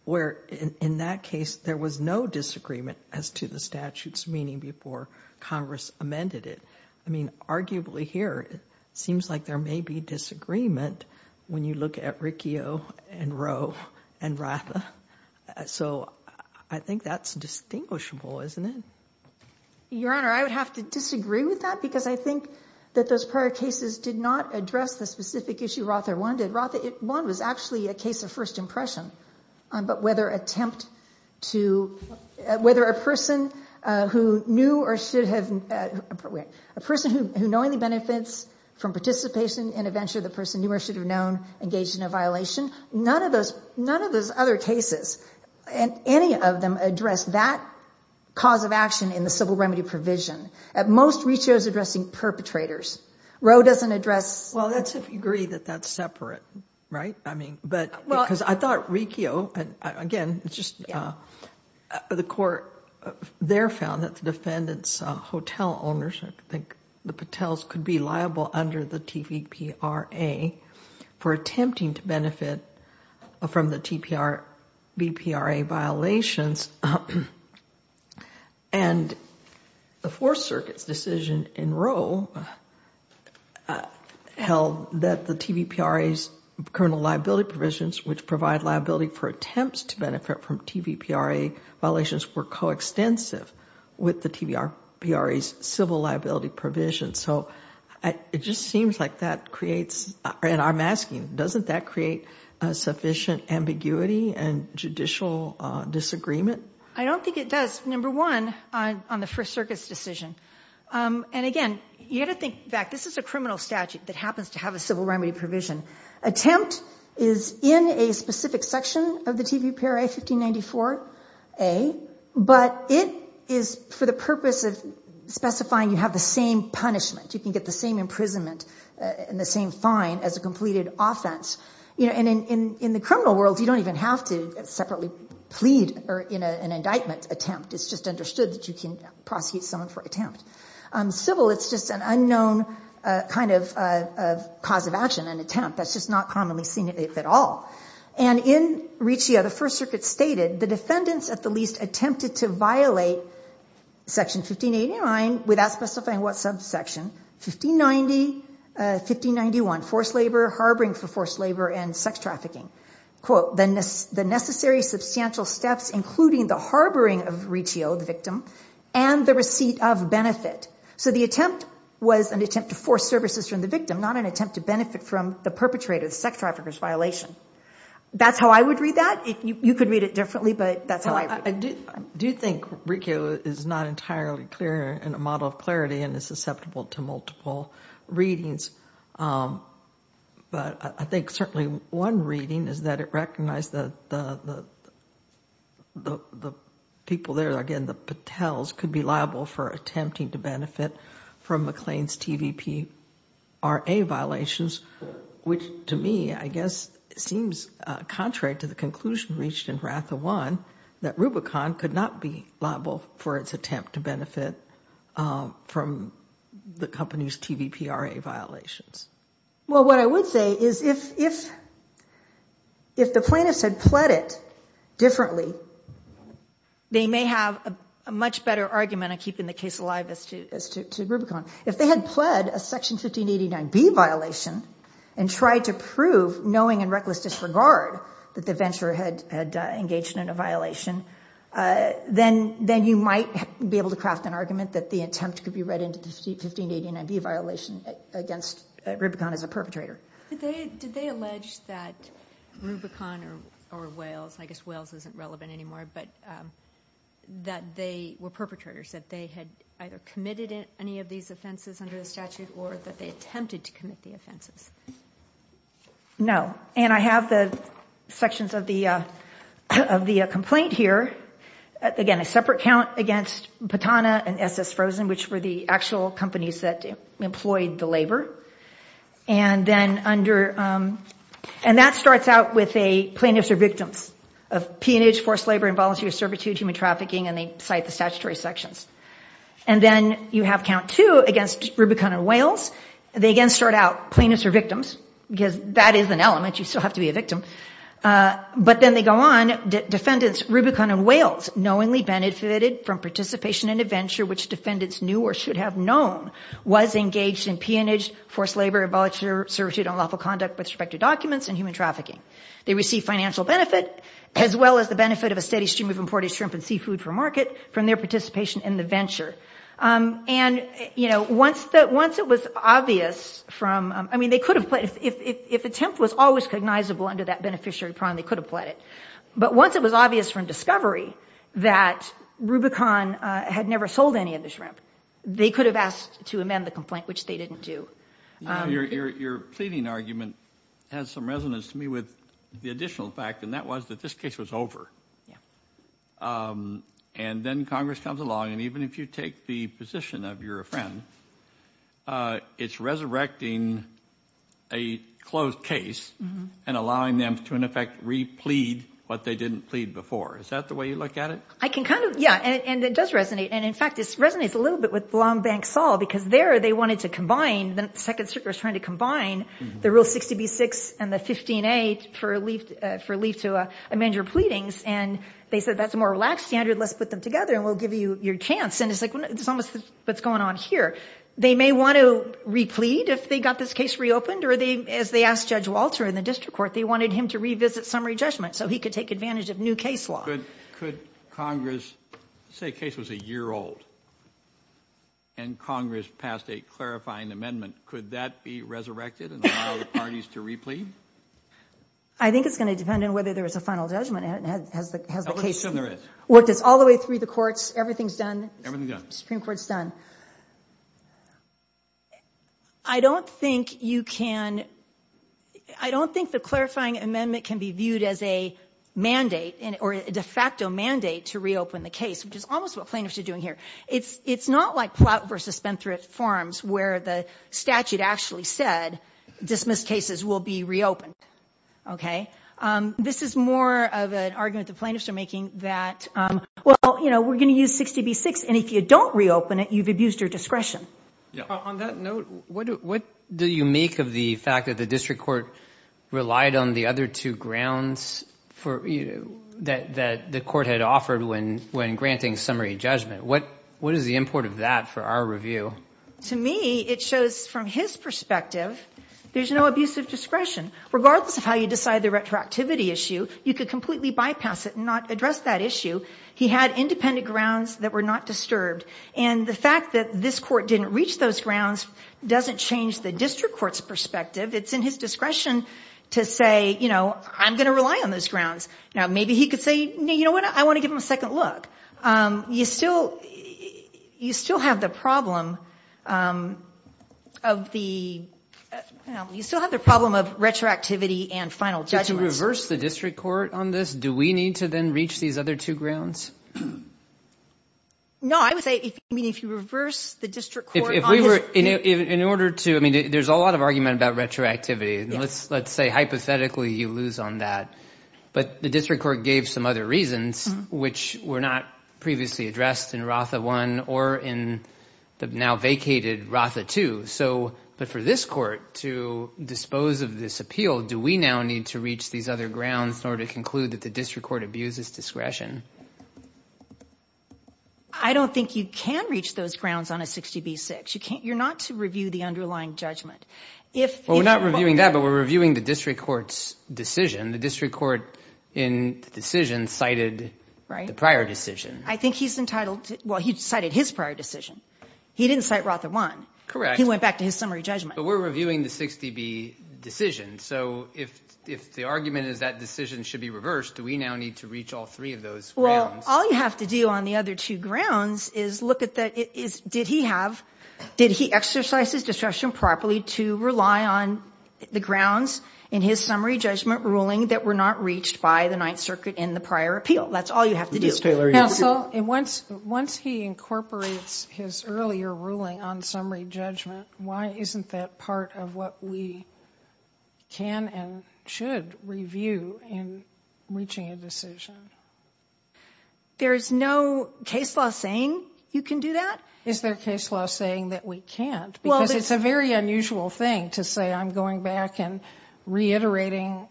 where in that case, there was no disagreement as to the statute's meaning before Congress amended it. I mean, arguably here, it seems like there may be disagreement when you look at Riccio and Rowe and Ratha. So I think that's distinguishable, isn't it? Your Honor, I would have to disagree with that because I think that those prior cases did not address the specific issue ROTA one did. ROTA one was actually a case of first impression, but whether attempt to... Whether a person who knew or should have... A person who knew any benefits from participation in a venture the person knew or should have known engaged in a violation. None of those other cases, any of them address that cause of action in the civil remedy provision. At most, Riccio's addressing perpetrators. Rowe doesn't address... Well, that's if you agree that that's separate, right? I mean, because I thought Riccio... Again, it's just the court there found that the defendant's hotel owners, I think the Patels, could be liable under the TVPRA for attempting to benefit from the TVPRA violations. And the Fourth Circuit's decision in Rowe held that the TVPRA's criminal liability provisions which provide liability for attempts to benefit from TVPRA violations were coextensive with the TVPRA's civil liability provisions. So it just seems like that creates... And I'm asking you, doesn't that create sufficient ambiguity and judicial disagreement? I don't think it does, number one, on the First Circuit's decision. And again, you've got to think back. This is a criminal statute that happens to have a civil remedy provision. Attempt is in a specific section of the TVPRA, 1594A, but it is for the purpose of specifying you have the same punishment. You can get the same imprisonment and the same fine as a completed offense. And in the criminal world, you don't even have to separately plead in an indictment attempt. It's just understood that you can prosecute someone for attempt. Civil, it's just an unknown kind of cause of action, an attempt. That's just not commonly seen at all. And in Riccio, the First Circuit stated, the defendants at the least attempted to violate Section 1589 without specifying what subsection, 1590, 1591, forced labor, harboring for forced labor, and sex trafficking. Quote, the necessary substantial steps including the harboring of Riccio, the victim, and the receipt of benefit. So the attempt was an attempt to force services from the victim, not an attempt to benefit from the perpetrator, the sex trafficker's violation. That's how I would read that. You could read it differently, but that's how I would read it. I do think Riccio is not entirely clear in a model of clarity and is susceptible to multiple readings. But I think certainly one reading is that it recognized that the people there, again, the Patels, could be liable for attempting to benefit from McLean's TVPRA violations, which to me, I guess, seems contrary to the conclusion reached in RATHA 1 that Rubicon could not be liable for its attempt to benefit from the company's TVPRA violations. Well, what I would say is if the plaintiffs had pled it differently, they may have a much better argument at keeping the case alive as to Rubicon. If they had pled a Section 1589B violation and tried to prove, knowing in reckless disregard, that the venturer had engaged in a violation, then you might be able to craft an argument that the attempt could be read against Rubicon as a perpetrator. Did they allege that Rubicon or Wales, I guess Wales isn't relevant anymore, but that they were perpetrators, that they had either committed any of these offenses under the statute or that they attempted to commit the offenses? No. And I have the sections of the complaint here. Again, a separate count against Patana and S.S. Frozen, which were the actual companies that employed the labor. And that starts out with a plaintiff or victim of peonage, forced labor, involuntary servitude, human trafficking, and they cite the statutory sections. And then you have count two against Rubicon and Wales. They again start out plaintiffs or victims because that is an element. You still have to be a victim. But then they go on. Defendants Rubicon and Wales knowingly benefited from participation in a venture which defendants knew or should have known was engaged in peonage, forced labor, involuntary servitude, unlawful conduct with respect to documents and human trafficking. They received financial benefit as well as the benefit of a steady stream of imported shrimp and seafood for market from their participation in the venture. And, you know, once it was obvious from, I mean, they could have, if the temp was always cognizable under that beneficiary prong, they could have pled it. But once it was obvious from discovery that Rubicon had never sold any of the shrimp, they could have asked to amend the complaint, which they didn't do. Your pleading argument has some resonance to me with the additional fact, and that was that this case was over. Yeah. And then Congress comes along, and even if you take the position of you're a friend, it's resurrecting a closed case and allowing them to, in effect, re-plead what they didn't plead before. Is that the way you look at it? I can kind of, yeah. And it does resonate. And, in fact, it resonates a little bit with Long Bank Fall because there they wanted to combine, the second circuit was trying to combine the Rule 60B-6 and the 15-A for lease to amend your pleadings. And they said, that's a more relaxed standard. Let's put them together and we'll give you your chance. And it's like, it's almost what's going on here. They may want to re-plead if they got this case reopened or as they asked Judge Walter in the district court, they wanted him to revisit summary judgment so he could take advantage of new case law. Could Congress say case was a year old and Congress passed a clarifying amendment, could that be resurrected and allow the parties to re-plead? I think it's going to depend on whether there's a final judgment and has the case reopened. How much time there is? All the way through the courts, everything's done. Everything's done. Supreme Court's done. I don't think you can, I don't think the clarifying amendment can be viewed as a mandate or a de facto mandate to reopen the case, which is almost what plaintiffs are doing here. It's not like Platt v. Spencer at Farms where the statute actually said dismissed cases will be reopened. This is more of an argument the plaintiffs are making that, well, we're going to use 60 v. 6 and if you don't reopen it, you've abused your discretion. On that note, what do you make of the fact that the district court relied on the other two grounds that the court had offered when granting summary judgment? What is the import of that for our review? To me, it shows from his perspective there's no abusive discretion. Regardless of how you decide the retroactivity issue, you could completely bypass it and not address that issue. He had independent grounds that were not disturbed. The fact that this court didn't reach those grounds doesn't change the district court's perspective. It's in his discretion to say, I'm going to rely on those grounds. Maybe he could say, I want to give him a second look. You still have the problem of retroactivity and final judgment. To reverse the district court on this, do we need to then reach these other two grounds? No, I would say if you reverse the district court... In order to... There's a lot of argument about retroactivity. Let's say, hypothetically, you lose on that. But the district court gave some other reasons which were not previously addressed in RASA 1 or in the now vacated RASA 2. But for this court to dispose of this appeal, do we now need to reach these other grounds in order to conclude that the district court abuses discretion? I don't think you can reach those grounds on a 60B-6. You're not to review the underlying judgment. Well, we're not reviewing that, but we're reviewing the district court's decision. The district court in the decision cited the prior decision. I think he's entitled to... Well, he cited his prior decision. He didn't cite RASA 1. Correct. He went back to his summary judgment. But we're reviewing the 60B decision. So if the argument is that decision should be reversed, do we now need to reach all three of those grounds? Well, all you have to do on the other two grounds is look at the... Did he have... Did he exercise his discretion properly to rely on the grounds in his summary judgment ruling that were not reached by the Ninth Circuit in the prior appeal? That's all you have to do. Ms. Taylor, you have to... Now, so once he incorporates his earlier ruling on summary judgment, why isn't that part of what we can and should review in reaching a decision? There's no case law saying you can do that? Is there a case law saying that we can't? Because it's a very unusual thing to say I'm going back and reiterating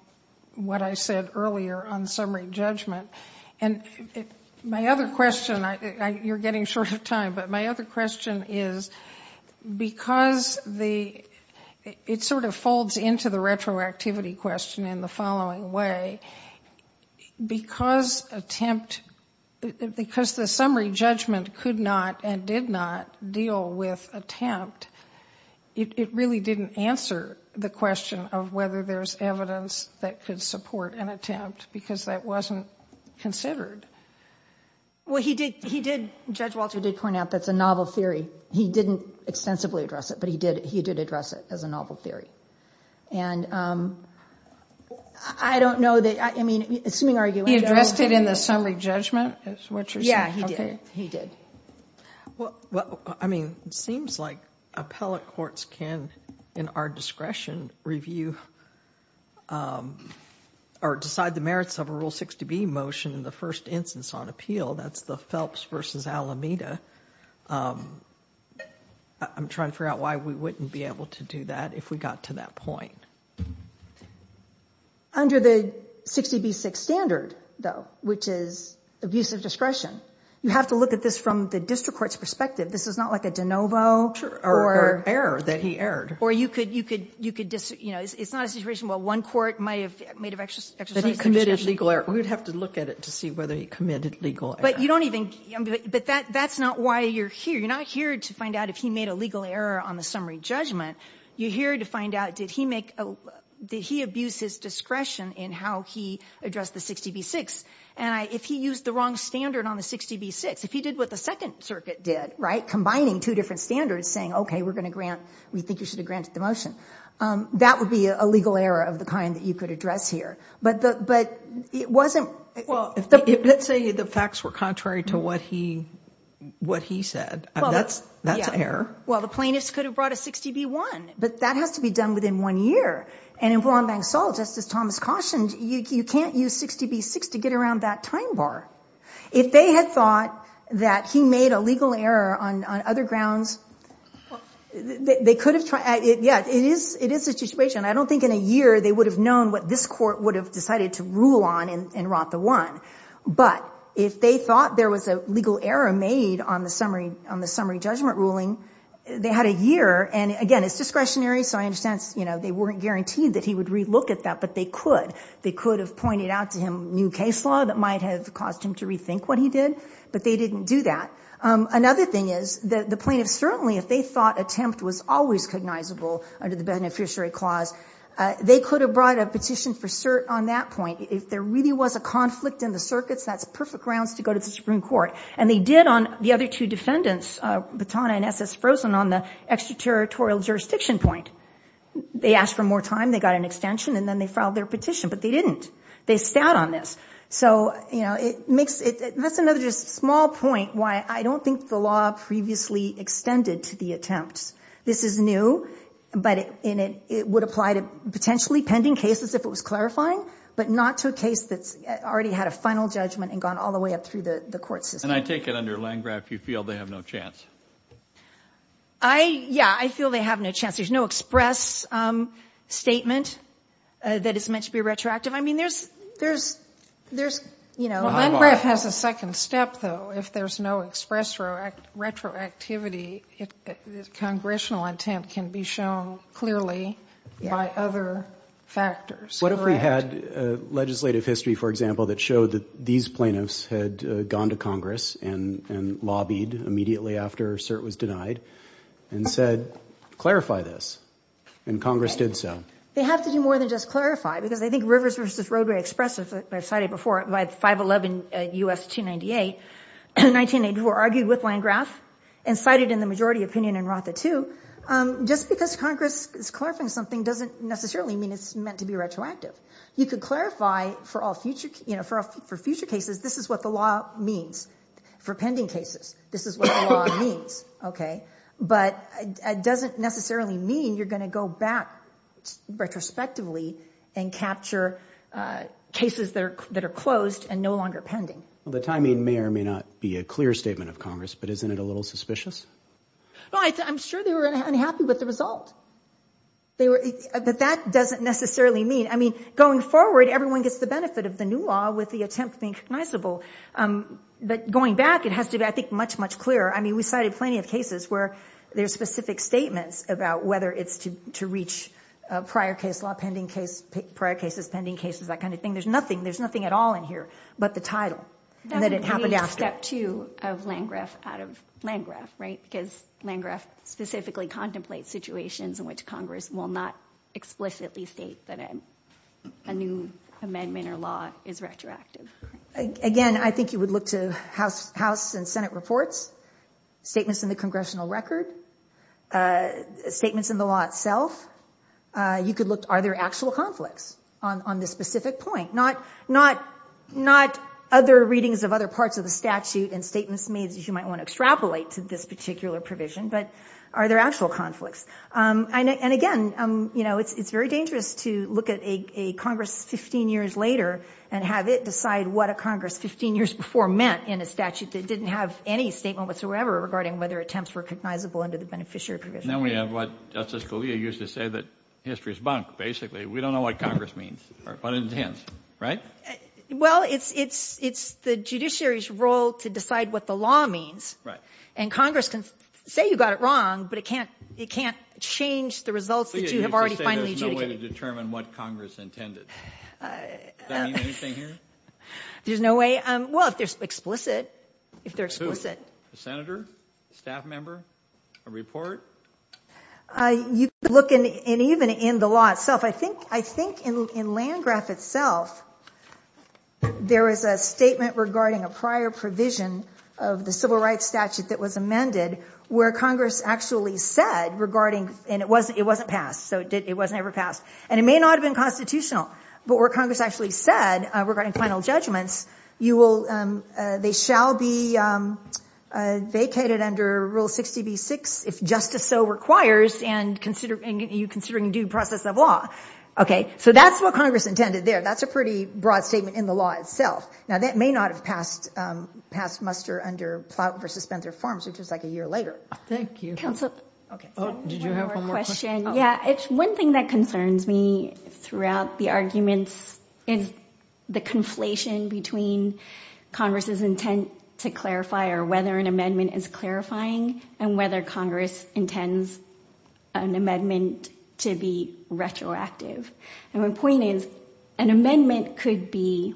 what I said earlier on summary judgment. And my other question, you're getting short of time, but my other question is because the... It sort of folds into the retroactivity question in the following way. Because attempt... Because the summary judgment could not and did not deal with attempt. It really didn't answer the question of whether there's evidence that could support an attempt because that wasn't considered. Well, he did... Judge Walter did point out that's a novel theory. He didn't extensively address it, but he did address it as a novel theory. And I don't know that... I mean, assuming... He addressed it in the summary judgment is what you're saying? Yeah, he did. Well, I mean, it seems like appellate courts can, in our discretion, review or decide the merits of a Rule 60B motion in the first instance on appeal. That's the Phelps v. Alameda. I'm trying to figure out why we wouldn't be able to do that if we got to that point. Under the 60B6 standard, though, which is abuse of discretion, you have to look at this from the district court's perspective. This is not like a de novo. Or an error that he erred. Or you could... It's not a situation where one court might have made an exercise... But he committed legal error. We'd have to look at it to see whether he committed legal error. But you don't even... But that's not why you're here. You're not here to find out if he made a legal error on the summary judgment. You're here to find out did he abuse his discretion in how he addressed the 60B6. And if he used the wrong standard on the 60B6, if he did what the Second Circuit did, right, combining two different standards, saying, okay, we're going to grant... We think you should have granted the motion. That would be a legal error of the kind that you could address here. But it wasn't... Well, let's say the facts were contrary to what he said. That's an error. Well, the plaintiff could have brought a 60B1. But that has to be done within one year. And in Fulham Bank's law, just as Thomas cautioned, you can't use 60B6 to get around that time bar. If they had thought that he made a legal error on other grounds, they could have tried... Yes, it is a situation. I don't think in a year they would have known what this court would have decided to rule on and wrought the one. But if they thought there was a legal error made on the summary judgment ruling, they had a year. And again, it's discretionary, so I understand they weren't guaranteed that he would relook at that. But they could. They could have pointed out to him new case law that might have caused him to rethink what he did, but they didn't do that. Another thing is that the plaintiff certainly, if they thought attempt was always recognizable under the Beneficiary Clause, they could have brought a petition for cert on that point. If there really was a conflict in the circuits, that's the perfect grounds to go to the Supreme Court. And they did on the other two defendants, Batana and F.S. Frozen, on the extraterritorial jurisdiction point. They asked for more time. They got an extension and then they filed their petition. But they didn't. They stat on this. That's another small point why I don't think the law previously extended to the attempt. This is new, but it would apply to potentially pending cases if it was clarifying, but not to a case that already had a final judgment and gone all the way up through the court system. And I take it under line graph you feel they have no chance. Yeah, I feel they have no chance. There's no express statement that is meant to be retroactive. I mean, there's, there's, there's, you know, line graph has a second step, though. If there's no express retroactivity, congressional intent can be shown clearly by other factors. What if we had legislative history, for example, that showed that these plaintiffs had gone to Congress and lobbied immediately after cert was denied and said, clarify this. And Congress did so. It has to be more than just clarify because I think Rivers vs. Rodeway Express as I cited before, by 511 U.S. 298, were argued with line graph and cited in the majority opinion in Ratha 2. Just because Congress is clarifying something doesn't necessarily mean it's meant to be retroactive. You could clarify for all future, you know, for future cases, this is what the law means for pending cases. This is what the law means. Okay. But it doesn't necessarily mean you're going to go back retrospectively and capture cases that are closed and no longer pending. The timing may or may not be a clear statement of Congress, but isn't it a little suspicious? I'm sure they were unhappy with the result. But that doesn't necessarily mean. I mean, going forward, everyone gets the benefit of the new law with the attempts being recognizable. But going back, it has to be, I think, much, much clearer. I mean, we cited plenty of cases where there's specific statements about whether it's to reach prior case law, pending case, prior cases, pending cases, that kind of thing. There's nothing, there's nothing at all in here but the title and that it happened after. That would be a step two of Landgraf out of Landgraf, right? Because Landgraf specifically contemplates situations in which Congress will not explicitly state that a new amendment or law is retroactive. Again, I think you would look to House and Senate reports, statements in the Congressional Records, statements in the law itself. You could look, are there actual conflicts on this specific point? Not other readings of other parts of the statute and statements made that you might want to extrapolate to this particular provision, but are there actual conflicts? And again, it's very dangerous to look at a Congress 15 years later and have it decide what a Congress 15 years before meant in a statute that didn't have any statement whatsoever regarding whether attempts were recognizable under the Beneficiary Provision. Now we have what Justice Scalia used to say that history is bunk, basically. We don't know what Congress means or what it intends, right? Well, it's the judiciary's role to decide what the law means. And Congress can say you got it wrong, but it can't change the results that you have already finally taken. There's no way to determine what Congress intended. Does that mean anything here? There's no way. Well, if they're explicit. Senator? Staff member? A report? You can look, and even in the law itself, I think in Landgraf itself, there is a statement regarding a prior provision of the Civil Rights Statute that was amended where Congress actually said regarding, and it wasn't passed, so it wasn't ever passed, and it may not have been constitutional, but where Congress actually said regarding final judgments, they shall be vacated under Rule 60b-6 if justice so requires and are you considering due process of law. Okay, so that's what Congress intended there. That's a pretty broad statement in the law itself. Now, that may not have passed muster under Plowton v. Spencer forms just like a year later. Thank you. Councilor? Did you have one more question? Yeah, it's one thing that concerns me throughout the arguments is the conflation between Congress's intent to clarify or whether an amendment is clarifying and whether Congress intends an amendment to be retroactive. And my point is an amendment could be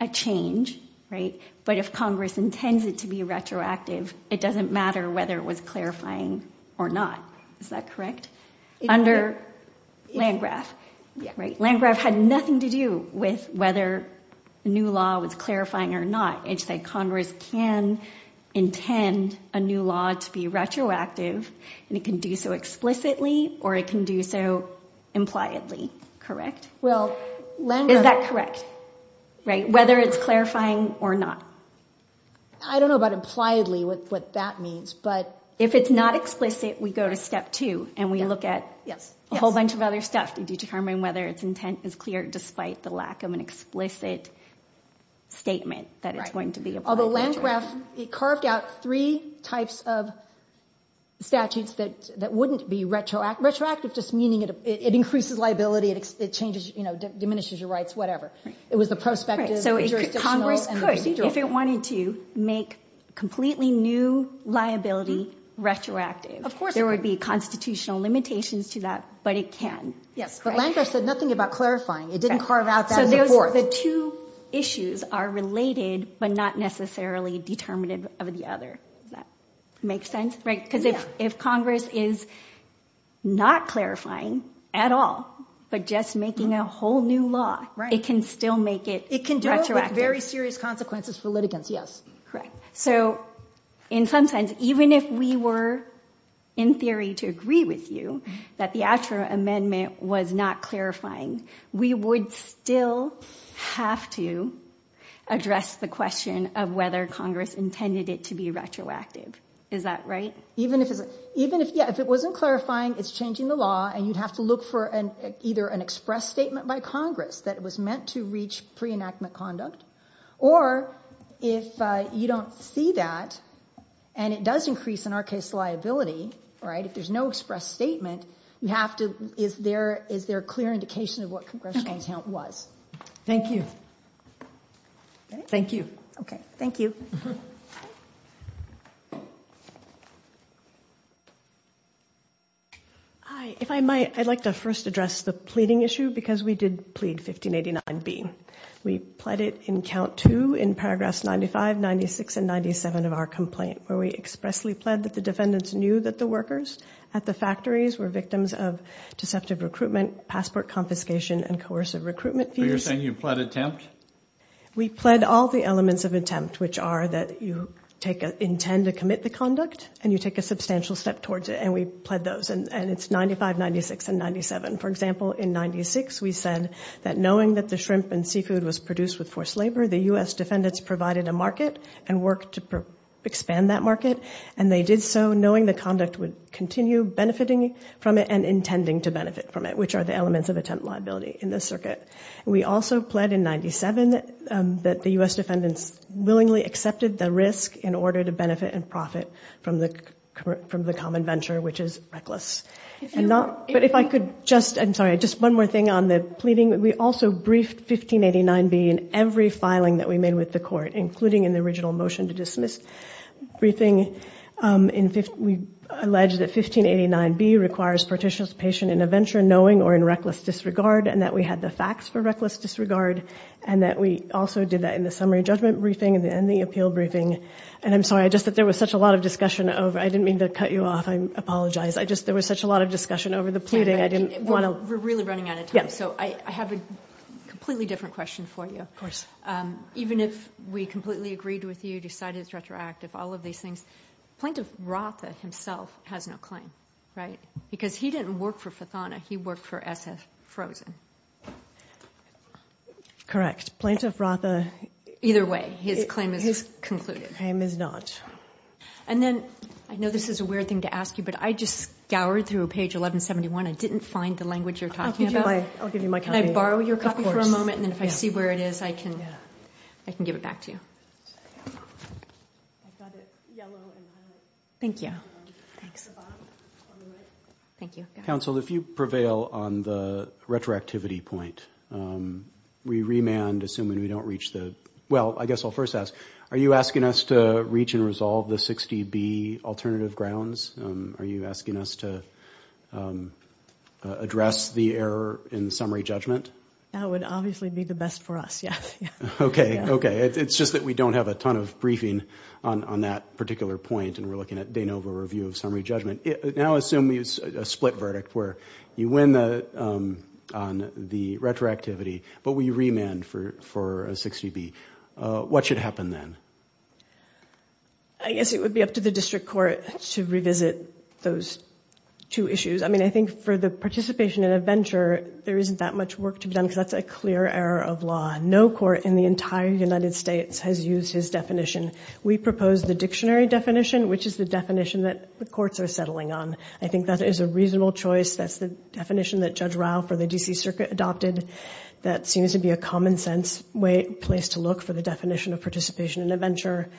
a change, right, but if Congress intends it to be retroactive, it doesn't matter whether it was clarifying or not. Is that correct? Under Landgraf. Landgraf had nothing to do with whether a new law was clarifying or not. It said Congress can intend a new law to be retroactive and it can do so explicitly or it can do so impliedly. Correct? Well, Landgraf... Is that correct? Right, whether it's clarifying or not. I don't know about impliedly, what that means, but... If it's not explicit, we go to step two and we look at a whole bunch of other steps to determine whether its intent is clear despite the lack of an explicit statement that it's going to be... Although Landgraf, he carved out three types of statutes that wouldn't be retroactive, just meaning it increases liability, it diminishes your rights, whatever. It was a prospective... So Congress could, if it wanted to, make completely new liability retroactive. There would be constitutional limitations to that, but it can. But Landgraf said nothing about clarifying. It didn't carve out that before. So the two issues are related, but not necessarily determinative of the other. Does that make sense? Right. Because if Congress is not clarifying at all, but just making a whole new law, it can still make it It can still have very serious consequences for litigants, yes. Correct. So in some sense, even if we were, in theory, to agree with you that the Asher Amendment was not clarifying, we would still have to address the question of whether Congress intended it to be retroactive. Is that right? Even if it wasn't clarifying, it's changing the law, and you have to look for either an express statement by Congress that it was meant to reach pre-enactment conduct, or if you don't see that, and it does increase in our case liability, if there's no express statement, you have to... Is there a clear indication of what congressional account was? Thank you. Thank you. Okay. Thank you. Hi. If I might, I'd like to first address the pleading issue because we did plead 1589B. We pled it in count two in paragraphs 95, 96, and 97 of our complaint, where we expressly pled that the defendants knew that the workers at the factories were victims of deceptive recruitment, passport confiscation, and coercive recruitment. So you're saying you pled attempt? We pled all the elements of attempt, which are that you intend to commit to conduct, and you take a substantial step towards it, and we pled those, and it's 95, 96, and 97. For example, in 96, we said that knowing that the shrimp and seafood was produced with forced labor, the U.S. defendants provided a market and worked to expand that market, and they did so knowing the conduct would continue and benefiting from it and intending to benefit from it, which are the elements of attempt liability in this circuit. We also pled in 97 that the U.S. defendants willingly accepted the risk in order to benefit and profit from the common venture, which is reckless. But if I could just, I'm sorry, just one more thing on the pleading. We also briefed 1589B in every filing that we made with the court, including in the original motion to dismiss briefing. We allege that 1589B requires partitionicipation in a venture knowing or in reckless disregard, and that we had the facts for reckless disregard, and that we also did that in the summary judgment briefing and the appeal briefing. And I'm sorry, there was such a lot of discussion over, I didn't mean to cut you off. I apologize. There was such a lot of discussion over the pleading. We're really running out of time, so I have a completely different question for you. Of course. Even if we completely agreed with you, decided it's retroactive, all of these things, Plaintiff Rothfuss himself has no claim, right? Because he didn't work for Fathana. He worked for F.S. Frozen. Correct. Plaintiff Rothfuss, either way, his claim is concluded. His claim is not. And then, I know this is a weird thing to ask you, but I just scoured through page 1171 and didn't find the language you're talking about. I'll give you my copy. Can I borrow your copy for a moment, and if I see where it is, I can give it back to you. Thank you. Thank you. Counsel, if you prevail on the retroactivity point, we remand, assuming we don't reach the... Well, I guess I'll first ask, are you asking us to reach and resolve the 60B alternative grounds? Are you asking us to address the error in the summary judgment? That would obviously be the best for us, yes. Okay, okay. It's just that we don't have a ton of briefing on that particular point, and we're looking at Danova Review of Summary Judgment. Now, assume we have a split verdict where you win on the retroactivity, but we remand for a 60B. What should happen then? I guess it would be up to the district court to revisit those two issues. I mean, I think for the participation in a venture, there isn't that much work to do, and that's a clear error of law. No court in the entire United States has used this definition We propose the dictionary definition, which is the definition that the courts are settling on. I think that is a reasonable choice. That's the definition that Judge Ralph of the D.C. Circuit adopted that seems to be a common-sense place to look for the definition of participation in a venture.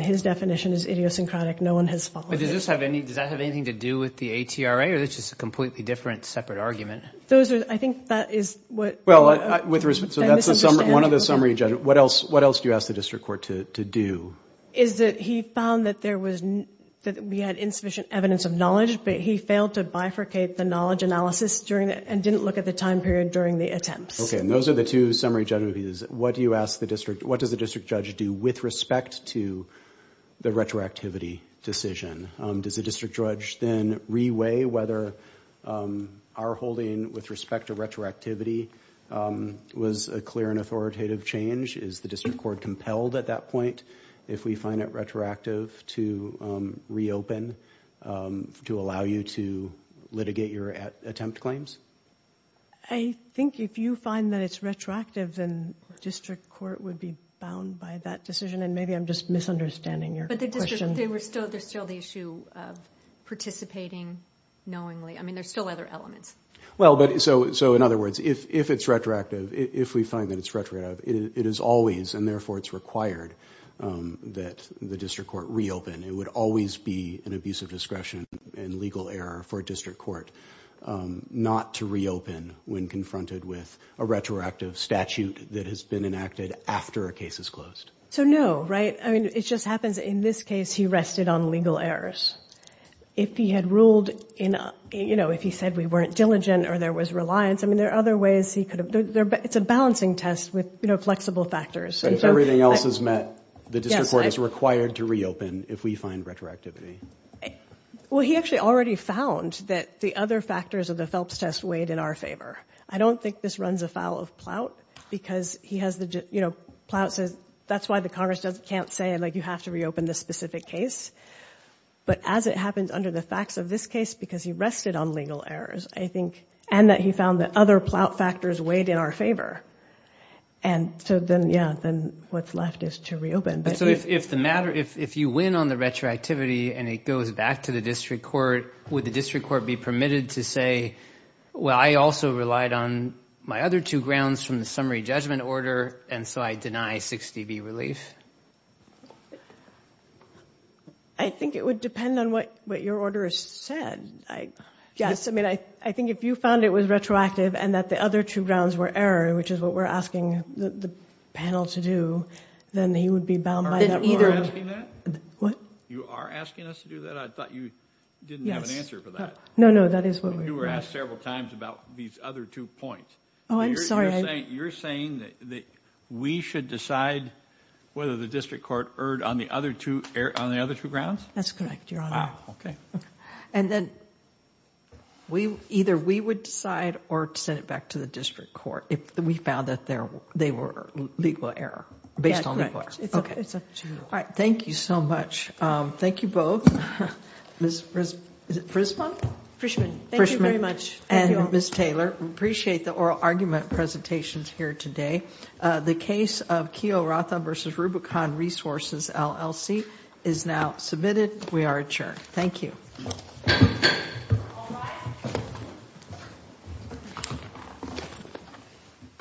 His definition is idiosyncratic. No one has followed it. Does that have anything to do with the ATRA, or is this just a completely different, separate argument? I think that is what... So that's one of the summary judgments. What else do you ask the district court to do? He found that there was... that we had insufficient evidence of knowledge, but he failed to bifurcate the knowledge analysis and didn't look at the time period during the attempt. Those are the two summary judgments. What do you ask the district... What does the district judge do with respect to the retroactivity decision? Does the district judge then re-weigh whether our holding with respect to retroactivity was a clear and authoritative change? Is the district court compelled to do that? compelled at that point if we find that retroactive to reopen to allow you to litigate your attempt claims? I think if you find that it's retroactive, then district court would be bound by that decision, and maybe I'm just misunderstanding your question. But there was still the issue of participating knowingly. I mean, there's still other elements. Well, so in other words, if it's retroactive, if we find that it's retroactive, it is always, and therefore, it's required that the district court reopen. It would always be an abuse of discretion and legal error for a district court not to reopen when confronted with a retroactive statute that has been enacted after a case is closed. So no, right? I mean, it just happens in this case, he rested on legal errors. If he had ruled in, you know, if he said we weren't diligent or there was reliance, I mean, there are other ways he could have, but it's a balancing test with, you know, flexible factors. If everything else is met, the district court is required to reopen if we find retroactivity. Well, he actually already found that the other factors of the Phelps test weighed in our favor. I don't think this runs afoul of Ploutt because he has the, you know, Ploutt says that's why the Congress can't say, like, you have to reopen this specific case. But as it happens under the facts of this case because he rested on legal errors, I think, and that he found that other Ploutt factors weighed in our favor. And so then, yeah, then what's left is to reopen. So if the matter, if you win on the retroactivity and it goes back to the district court, would the district court be permitted to say, well, I also relied on my other two grounds from the summary judgment order, and so I deny 60B release? I think it would depend on what your order said. Yes, I mean, I think if you found it was retroactive, and that the other two grounds were error, which is what we're asking the panel to do, then he would be bound by that order. Are you asking that? What? You are asking us to do that? I thought you didn't have an answer for that. No, no, that is what we're asking. You were asked several times about these other two points. Oh, I'm sorry. You're saying that we should decide whether the district court erred on the other two grounds? That's correct, Your Honor. Oh, okay. And then, either we would decide or send it back to the district court if we found that they were legal error based on the clerks. All right, thank you so much. Thank you both. Ms. Frisman? Frishman. Thank you very much. And Ms. Taylor, we appreciate the oral argument presentations here today. The case of Keohokalole v. Rubicon Resources LLC is now submitted. We are adjourned. Thank you. All rise.